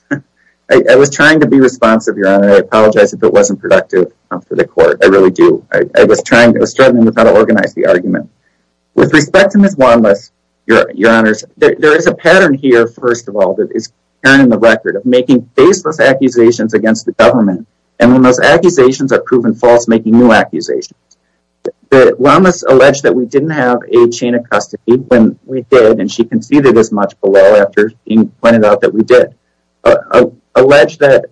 I was trying to be responsive, Your Honor. I apologize if it wasn't productive for the court. I really do. I was trying, I was struggling with how to organize the argument. With respect to Ms. Wanless, Your Honors, there is a pattern here, first of all, that is in the record of making baseless accusations against the government, and when those accusations are proven false, making new accusations. Wanless alleged that we didn't have a chain of custody when we did, and she conceded as much below after being pointed out that we did. Alleged that...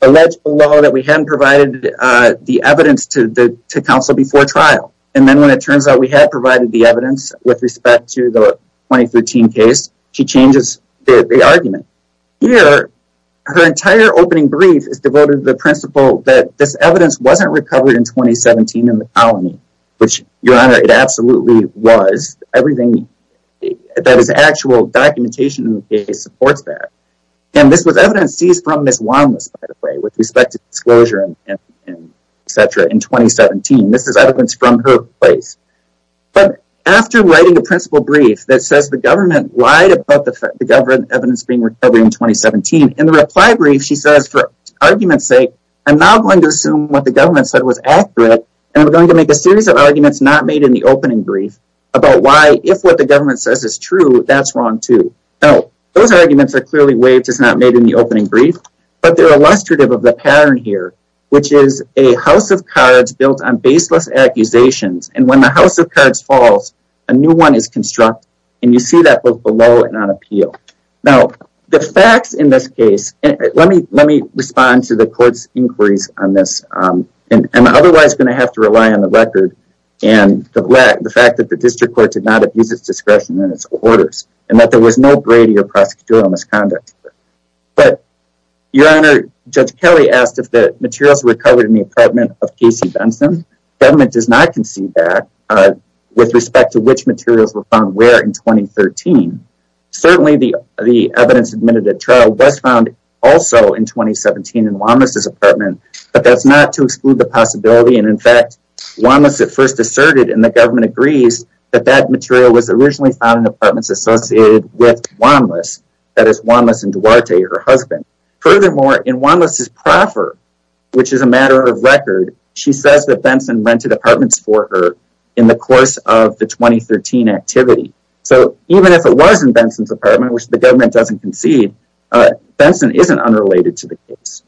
Alleged below that we hadn't provided the evidence to counsel before trial. And then when it turns out we had provided the evidence with respect to the 2013 case, she changes the argument. Here, her entire opening brief is devoted to the principle that this evidence wasn't recovered in 2017 in the colony, which, Your Honor, it absolutely was. Everything that is actual documentation in the case supports that. And this was evidence seized from Ms. Wanless, by the way, with respect to 2017. This is evidence from her place. But, after writing a principle brief that says the government lied about the evidence being recovered in 2017, in the reply brief, she says, for argument's sake, I'm now going to assume what the government said was accurate, and I'm going to make a series of arguments not made in the opening brief about why, if what the government says is true, that's wrong, too. Now, those arguments are clearly waived as not made in the opening brief, but they're illustrative of the pattern here, which is a house of cards built on baseless accusations, and when the house of cards falls, a new one is constructed, and you see that both below and on appeal. Now, the facts in this case let me respond to the court's inquiries on this. I'm otherwise going to have to rely on the record and the fact that the district court did not abuse its discretion in its orders, and that there was no Brady or prosecutorial misconduct. But, Your Honor, Judge Kelly asked if the materials were covered in the apartment of Casey Benson. The government does not concede that with respect to which materials were found where in 2013. Certainly, the evidence admitted at trial was found also in 2017 in Wanlis' apartment, but that's not to exclude the possibility, and in fact, Wanlis at first asserted, and the government agrees, that that material was originally found in apartments associated with Wanlis, that is, Wanlis and Duarte, her husband. Furthermore, in Wanlis' proffer, which is a matter of record, she says that Benson rented apartments for her in the course of the 2013 activity. So, even if it was in Benson's apartment, which the government doesn't concede, Benson isn't unrelated to the case.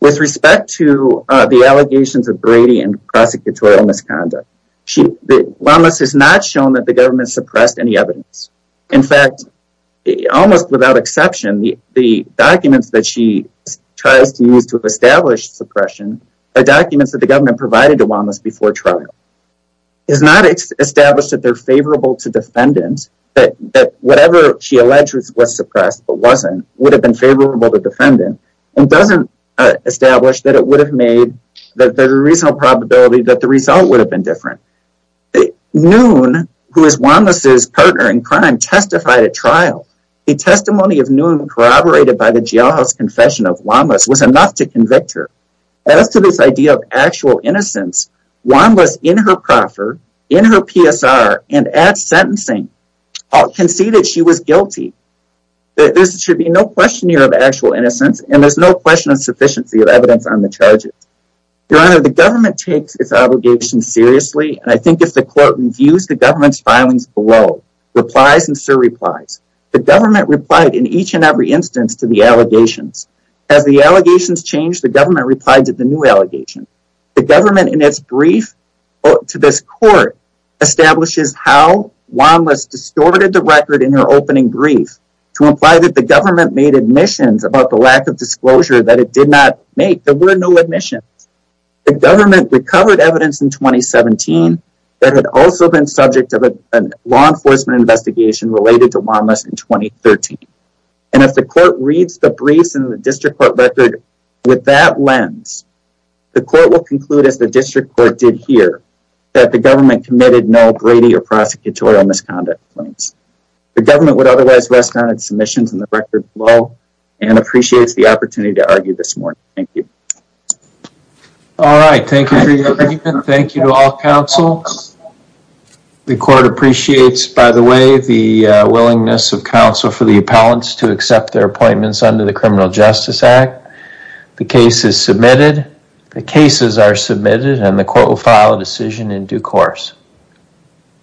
With respect to the allegations of Brady and prosecutorial misconduct, Wanlis has not shown that the government suppressed any evidence. In fact, almost without exception, the documents that she tries to use to establish suppression, the documents that the government provided to Wanlis before trial, is not established that they're favorable to defendants, that whatever she alleged was suppressed, but wasn't, would have been favorable to defendants, and doesn't establish that it would have made, that there's a reasonable probability that the result would have been different. Noone, who is Wanlis' partner in crime, testified at trial. The testimony of Noone corroborated by the jailhouse confession of Wanlis was enough to convict her. As to this idea of actual innocence, Wanlis, in her proffer, in her PSR, and at sentencing, conceded she was guilty. There should be no question here of actual innocence, and there's no question of sufficiency of evidence on the charges. Your Honor, the government takes its obligations seriously, and I think if the court reviews the government's filings below, replies and surreplies. The government replied in each and every instance to the allegations. As the allegations changed, the government replied to the new allegations. The government, in its brief to this court, establishes how Wanlis distorted the record in her opening brief, to imply that the government made admissions about the lack of disclosure that it did not make. There were no admissions. The government recovered evidence in 2017 that had also been subject of a law enforcement investigation related to Wanlis in 2013. And if the court reads the briefs in the district court record with that lens, the court will conclude as the district court did here, that the government committed no Brady or prosecutorial misconduct claims. The government would otherwise rest on its submissions in the record below, and appreciates the opportunity to argue this morning. Thank you. Alright, thank you for your argument. Thank you to all counsel. The court appreciates, by the way, the willingness of counsel for the appellants to accept their appointments under the Criminal Justice Act. The case is submitted. The cases are submitted, and the court will file a decision in due course.